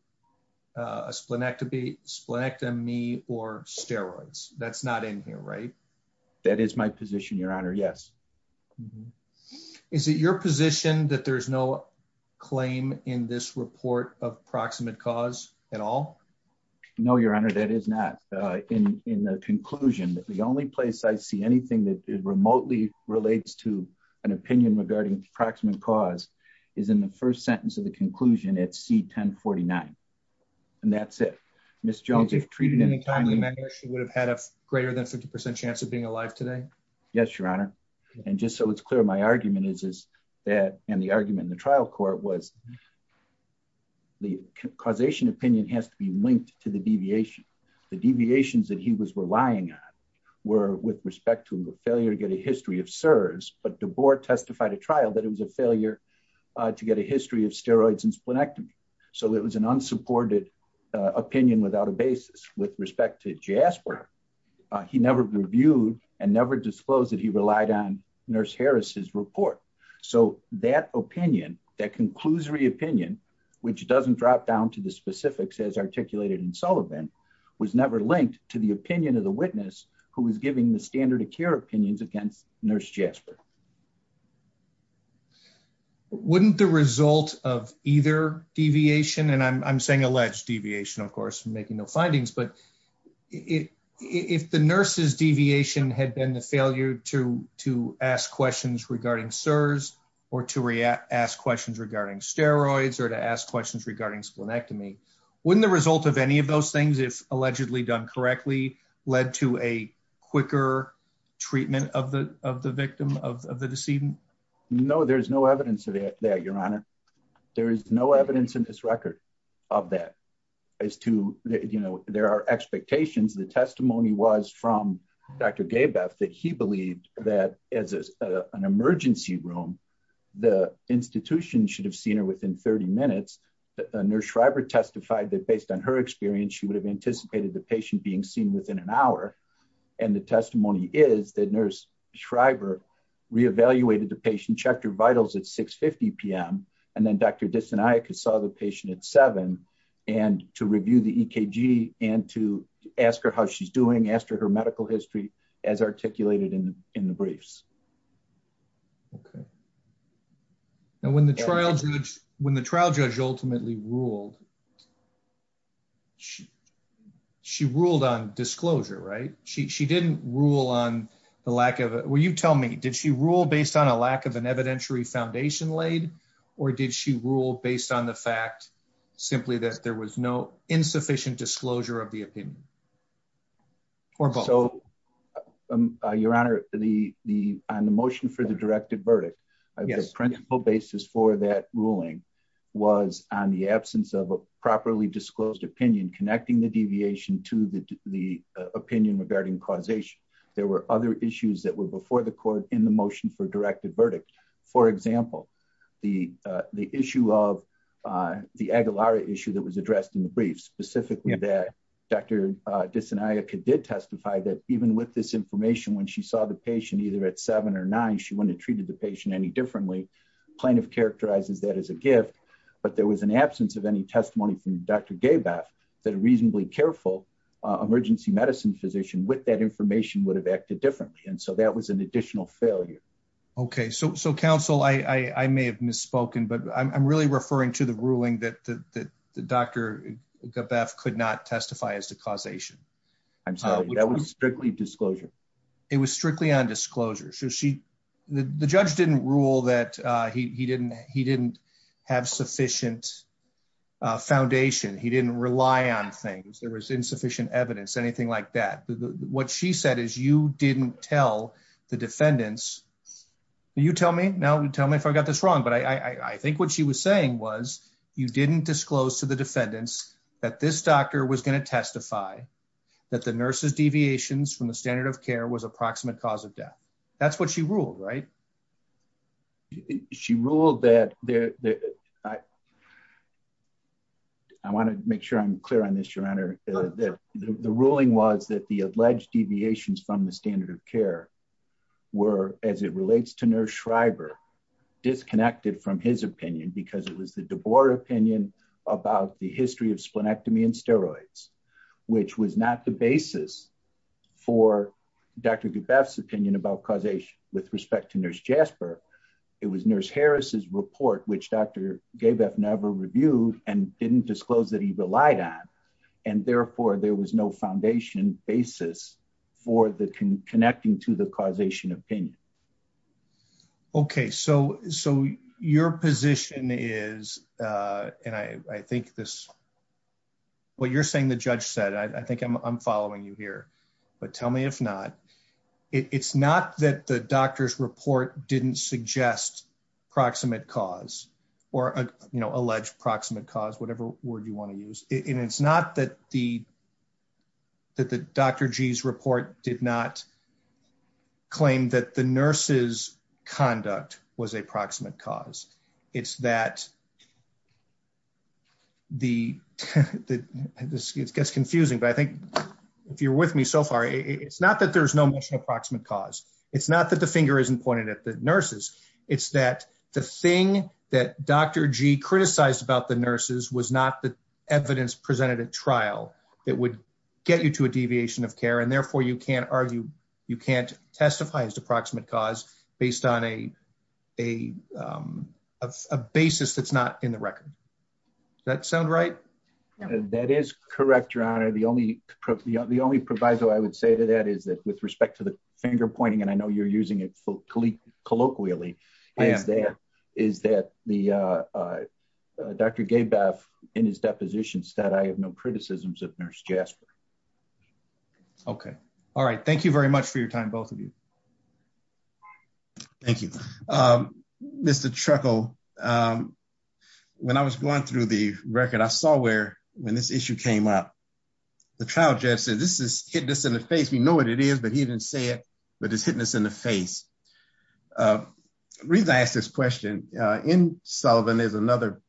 a splenectomy or steroids. That's not in here, right? That is my position, Your Honor. Yes. Is it your position that there is no claim in this report of proximate cause at all? No, Your Honor, that is not. In the conclusion, the only place I see anything that remotely relates to an opinion regarding proximate cause is in the first sentence of the conclusion at C1049. And that's it. If treated at any time, she would have had a greater than 50% chance of being alive today? Yes, Your Honor. And just so it's clear, my argument is that, and the argument in the trial court was, the causation opinion has to be linked to the deviation. The deviations that he was relying on were with respect to the failure to get a history of SERS, but the board testified at trial that it was a failure to get a history of steroids and splenectomy. So it was an unsupported opinion without a basis. With respect to JASPER, he never reviewed and never disclosed that he relied on Nurse Harris's report. So that opinion, that conclusory opinion, which doesn't drop down to the specifics as articulated in Sullivan, was never linked to the opinion of the witness who was giving the standard of care opinions against Nurse Jasper. Wouldn't the result of either deviation, and I'm saying alleged deviation, of course, I'm making no findings, but if the nurse's deviation had been the failure to ask questions regarding SERS or to ask questions regarding steroids or to ask questions regarding splenectomy, wouldn't the result of any of those things, if allegedly done correctly, lead to a quicker treatment of the victim, of the decedent? No, there's no evidence of that, Your Honor. There's no evidence in this record of that. As to, you know, there are expectations. The testimony was from Dr. Gabeff that he believed that as an emergency room, the institution should have seen her within 30 minutes. Nurse Schreiber testified that based on her experience, she would have anticipated the patient being seen within an hour. And the testimony is that Nurse Schreiber re-evaluated the patient, checked her vitals at 6.50 p.m., and then Dr. Disinayak saw the patient at 7 and to review the EKG and to ask her how she's doing, ask her her medical history as articulated in the briefs. Okay. And when the trial judge ultimately ruled, she ruled on disclosure, right? She didn't rule on the lack of it. Will you tell me, did she rule based on a lack of an evidentiary foundation laid, or did she rule based on the fact simply that there was no insufficient disclosure of the opinion? So, Your Honor, on the motion for the directed verdict, the principle basis for that ruling was on the absence of a properly disclosed opinion connecting the deviation to the opinion regarding causation. There were other issues that were before the court in the motion for directed verdict. For example, the issue of the Aguilaria issue that was addressed in the briefs, specifically that Dr. Disinayak did testify that even with this information, when she saw the patient either at 7 or 9, she wouldn't have treated the patient any differently. Plaintiff characterized that as a gift, but there was an absence of any testimony from Dr. Gabath that a reasonably careful emergency medicine physician with that information would have acted differently. And so that was an additional failure. Okay. So, counsel, I may have misspoken, but I'm really referring to the ruling that Dr. Gabath could not testify as to causation. I'm sorry, that was strictly disclosure. It was strictly on disclosure. The judge didn't rule that he didn't have sufficient foundation. He didn't rely on things. There was insufficient evidence, anything like that. What she said is you didn't tell the defendants, you tell me, tell me if I got this wrong, but I think what she was saying was you didn't disclose to the defendants that this doctor was going to testify that the nurse's deviations from the standard of care was approximate cause of death. That's what she ruled, right? She ruled that, I want to make sure I'm clear on this, Your Honor, the ruling was that the alleged deviations from the standard of care were, as it relates to Nurse Schreiber, disconnected from his opinion because it was the DeBoer opinion about the history of splenectomy and steroids, which was not the basis for Dr. Gabath's opinion about causation with respect to Nurse Jasper. It was Nurse Harris's report, which Dr. Gabath never reviewed and didn't disclose that he relied on, and therefore there was no foundation basis for the connecting to the causation opinion. Okay, so your position is, and I think this, what you're saying the judge said, I think I'm following you here, but tell me if not, it's not that the doctor's report didn't suggest proximate cause or alleged proximate cause, whatever word you want to use. It's not that Dr. G's report did not claim that the nurse's conduct was a proximate cause. It's that the, this gets confusing, but I think if you're with me so far, it's not that there's no mention of proximate cause. It's not that the finger isn't pointed at the nurses. It's that the thing that Dr. G criticized about the nurses was not the evidence presented at trial that would get you to a deviation of care, and therefore you can't argue, you can't testify as to proximate cause based on a basis that's not in the record. Does that sound right? That is correct, your honor. The only, the only proviso I would say to that is that with respect to the finger pointing, and I know you're using it colloquially, is that the Dr. Gabav, in his deposition, said I have no criticisms of nurse Jasper. Okay. All right. Thank you very much for your time, both of you. Thank you. Mr. Truckel, when I was going through the record, I saw where, when this issue came up, the trial judge said this is hit in the face. He knows what it is, but he didn't say it, but it's hit in the face. The reason I ask this question, in Sullivan, there's another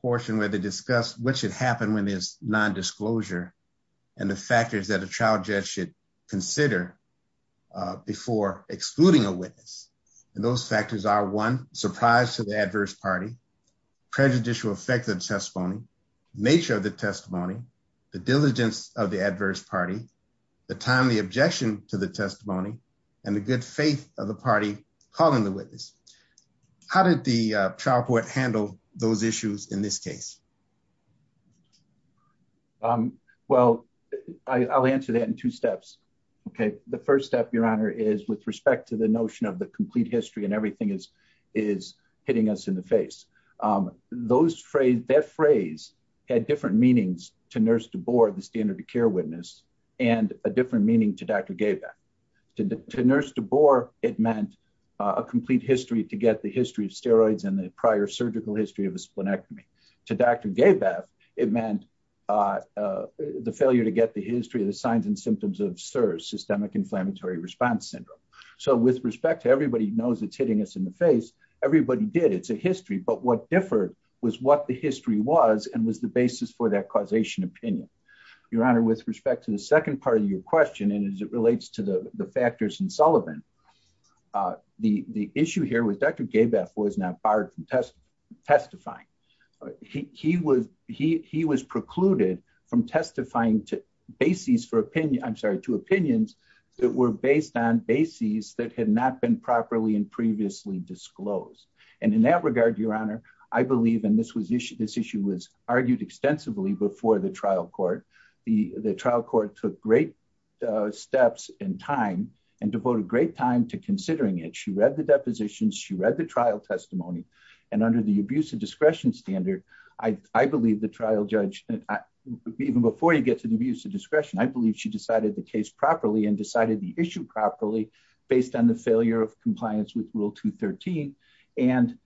portion where they discuss what should happen when there's nondisclosure and the factors that a trial judge should consider before excluding a witness. And those factors are, one, surprise to the adverse party, prejudicial effect of the testimony, nature of the testimony, the diligence of the adverse party, the timely objection to the testimony, and the good faith of the party calling the witness. How did the trial court handle those issues in this case? Well, I'll answer that in two steps. Okay. The first step, Your Honor, is with respect to the notion of the complete history and everything is hitting us in the face. That phrase had different meanings to nurse DeBoer, the standard of care witness, and a different meaning to Dr. Gabav. To nurse DeBoer, it meant a complete history to get the history of steroids and the prior surgical history of a splenectomy. To Dr. Gabav, it meant the failure to get the history of the signs and symptoms of SERS, systemic inflammatory response syndrome. So with respect to everybody knows it's hitting us in the face, everybody did. It's a history. But what differed was what the history was and was the basis for that causation opinion. Your Honor, with respect to the second part of your question, and as it relates to the factors in Sullivan, the issue here with Dr. Gabav was not part of testifying. He was precluded from testifying to opinions that were based on bases that had not been properly and previously disclosed. And in that regard, Your Honor, I believe, and this issue was argued extensively before the trial court. The trial court took great steps and time and devoted great time to considering it. She read the depositions. She read the trial testimony. And under the abuse of discretion standard, I believe the trial judge, even before you get to the abuse of discretion, I believe she decided the case properly and decided the issue properly based on the failure of compliance with Rule 213. And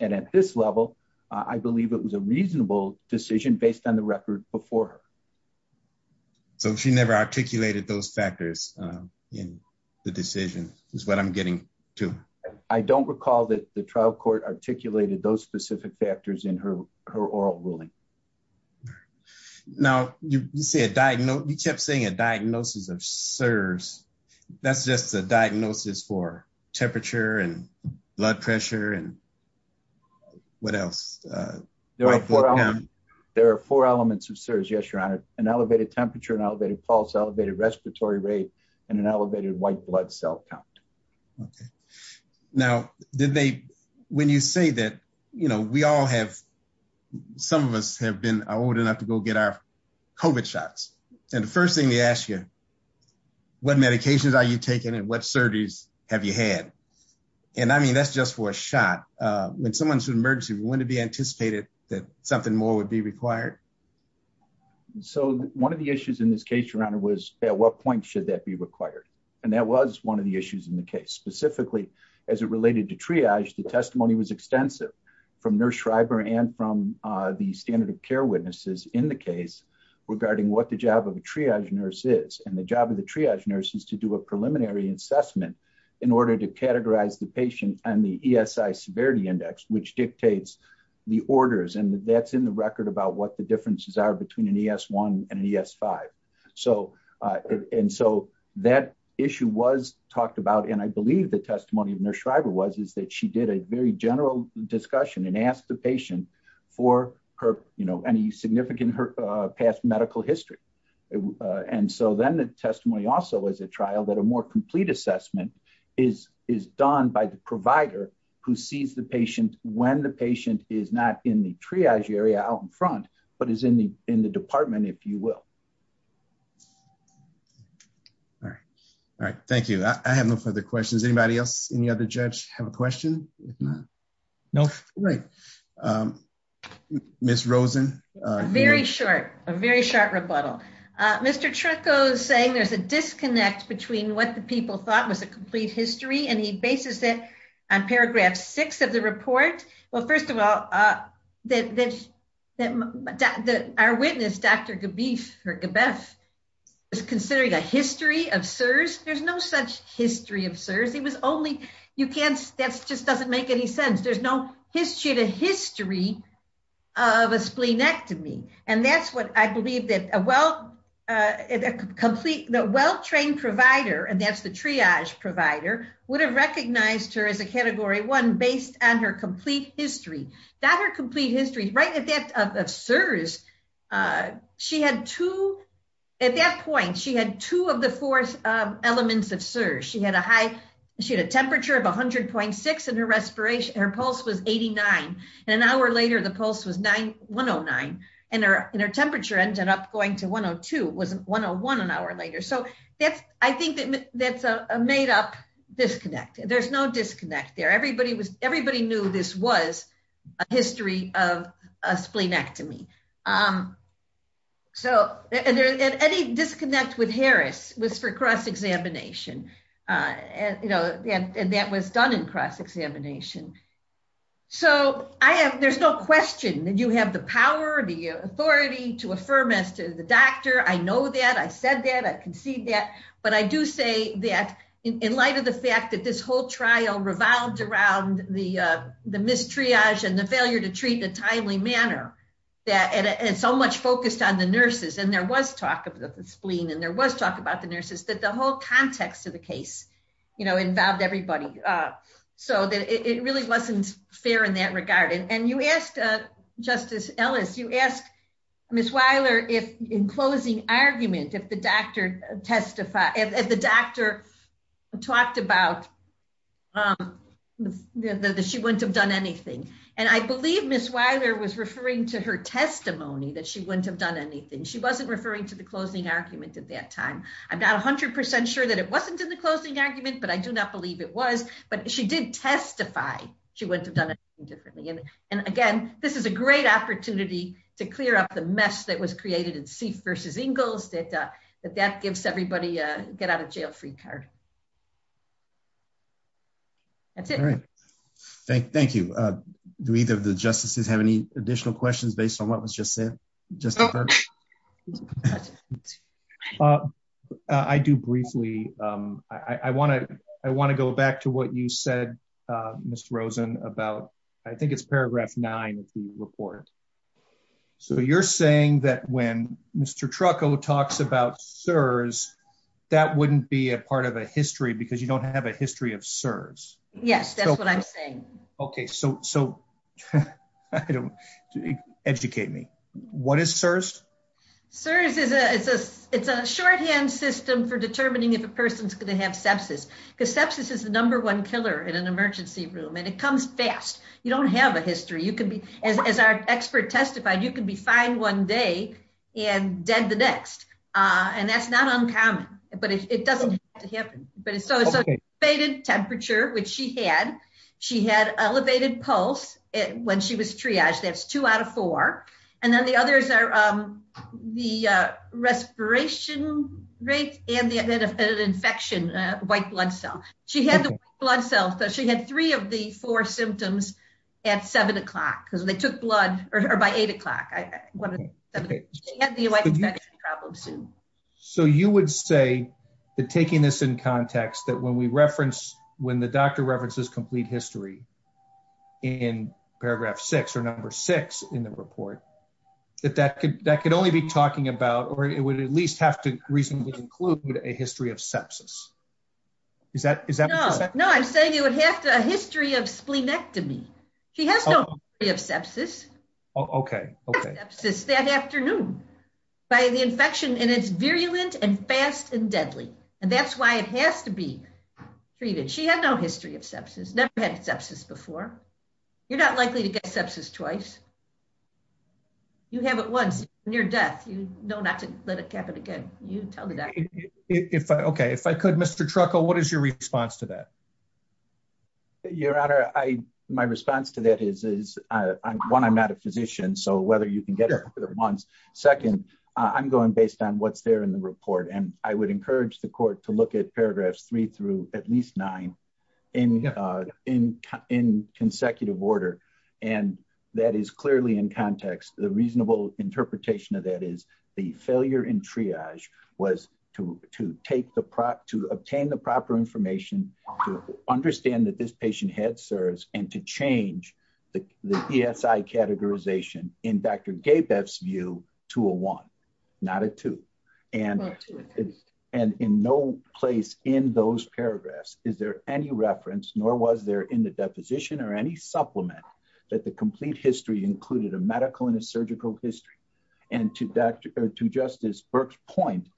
at this level, I believe it was a reasonable decision based on the record before her. So she never articulated those factors in the decision is what I'm getting to. I don't recall that the trial court articulated those specific factors in her oral ruling. Now, you kept saying a diagnosis of SERS. That's just a diagnosis for temperature and blood pressure and what else? There are four elements of SERS, Your Honor, an elevated temperature, an elevated pulse, elevated respiratory rate, and an elevated white blood cell count. Now, when you say that, you know, we all have, some of us have been old enough to go get our COVID shots. And the first thing they ask you, what medications are you taking and what surgeries have you had? And I mean, that's just for a shot. When someone's in an emergency, wouldn't it be anticipated that something more would be required? So one of the issues in this case, Your Honor, was at what point should that be required? And that was one of the issues in the case. Specifically, as it related to triage, the testimony was extensive from Nurse Schreiber and from the standard of care witnesses in the case regarding what the job of a triage nurse is. And the job of the triage nurse is to do a preliminary assessment in order to categorize the patient on the ESI severity index, which dictates the orders. And that's in the record about what the differences are between an ES1 and an ES5. And so that issue was talked about, and I believe the testimony of Nurse Schreiber was, is that she did a very general discussion and asked the patient for any significant past medical history. And so then the testimony also is a trial that a more complete assessment is done by the provider who sees the patient when the patient is not in the triage area out in front, but is in the department, if you will. All right. Thank you. I have no further questions. Anybody else? Any other judge have a question? No? Great. Ms. Rosen? Very short. A very short rebuttal. Mr. Trucco is saying there's a disconnect between what the people thought was a complete history, and he bases it on paragraph six of the report. Well, first of all, our witness, Dr. Gebess, was considering a history of SIRS. There's no such history of SIRS. It was only, you can't, that just doesn't make any sense. She had a history of a splenectomy, and that's what I believe that a well-trained provider, and that's the triage provider, would have recognized her as a category one based on her complete history. Not her complete history. Right at that SIRS, she had two, at that point, she had two of the four elements of SIRS. She had a temperature of 100.6, and her pulse was 89. An hour later, the pulse was 109, and her temperature ended up going to 102. It was 101 an hour later. So I think that's a made-up disconnect. There's no disconnect there. Everybody knew this was a history of a splenectomy. And any disconnect with Harris was for cross-examination. And that was done in cross-examination. So I have, there's no question that you have the power, the authority to affirm as to the doctor. I know that. I said that. I concede that. But I do say that in light of the fact that this whole trial revolved around the mistriage and the failure to treat in a timely manner, and so much focused on the nurses, and there was talk of the spleen, and there was talk about the nurses, but the whole context of the case involved everybody. So it really wasn't fair in that regard. And you asked, Justice Ellis, you asked Ms. Weiler, in closing argument, if the doctor testified, if the doctor talked about that she wouldn't have done anything. And I believe Ms. Weiler was referring to her testimony that she wouldn't have done anything. She wasn't referring to the closing argument at that time. I'm not 100% sure that it wasn't in the closing argument, but I do not believe it was. But she did testify she wouldn't have done anything differently. And, again, this is a great opportunity to clear up the mess that was created in Seif versus Ingalls, that that gives everybody a get-out-of-jail-free card. That's it. All right. Thank you. Do either of the justices have any additional questions based on what was just said? I do briefly. I want to go back to what you said, Ms. Rosen, about I think it's paragraph 9 of the report. So you're saying that when Mr. Trucco talks about SERS, that wouldn't be a part of a history because you don't have a history of SERS. Yes, that's what I'm saying. Okay. So educate me. What is SERS? SERS is a shorthand system for determining if a person is going to have sepsis because sepsis is the number one killer in an emergency room, and it comes fast. You don't have a history. As our expert testified, you can be fine one day and dead the next, and that's not uncommon, but it doesn't happen. Okay. So it's an elevated temperature, which she had. She had elevated pulse when she was triaged. That's two out of four. And then the others are the respiration rate and the infection, white blood cell. She had the white blood cell, so she had three of the four symptoms at 7 o'clock because they took blood by 8 o'clock. She had the white infection problem. So you would say that taking this in context, that when we reference, when the doctor references complete history in paragraph 6 or number 6 in the report, that that could only be talking about or it would at least have to reasonably include a history of sepsis. Is that correct? No, I'm saying it would have to have a history of spleenectomy. She has no history of sepsis. Okay. That afternoon by the infection, and it's virulent and fast and deadly. And that's why it has to be treated. She had no history of sepsis, never had sepsis before. You're not likely to get sepsis twice. You have it once, near death. You know not to let it happen again. You tell me that. Okay. If I could, Mr. Trucco, what is your response to that? Your Honor, my response to that is, one, I'm not a physician. So whether you can get it once. Second, I'm going based on what's there in the report. And I would encourage the court to look at paragraphs 3 through at least 9 in consecutive order. And that is clearly in context. The reasonable interpretation of that is the failure in triage was to obtain the proper information, to understand that this patient had SERS, and to change the PSI categorization in Dr. Gabeff's view to a 1, not a 2. And in no place in those paragraphs is there any reference, nor was there in the deposition or any supplement, that the complete history included a medical and a surgical history. And to Justice Burke's point,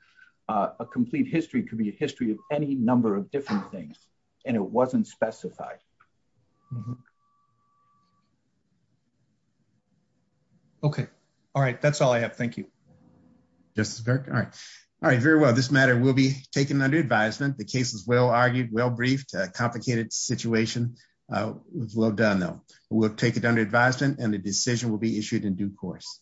a complete history could be a history of any number of different things. And it wasn't specified. Okay. All right. That's all I have. Thank you. Justice Burke. All right. All right. Very well. This matter will be taken under advisement. The case was well-argued, well-briefed. A complicated situation. It was well done, though. We'll take it under advisement, and the decision will be issued in due course.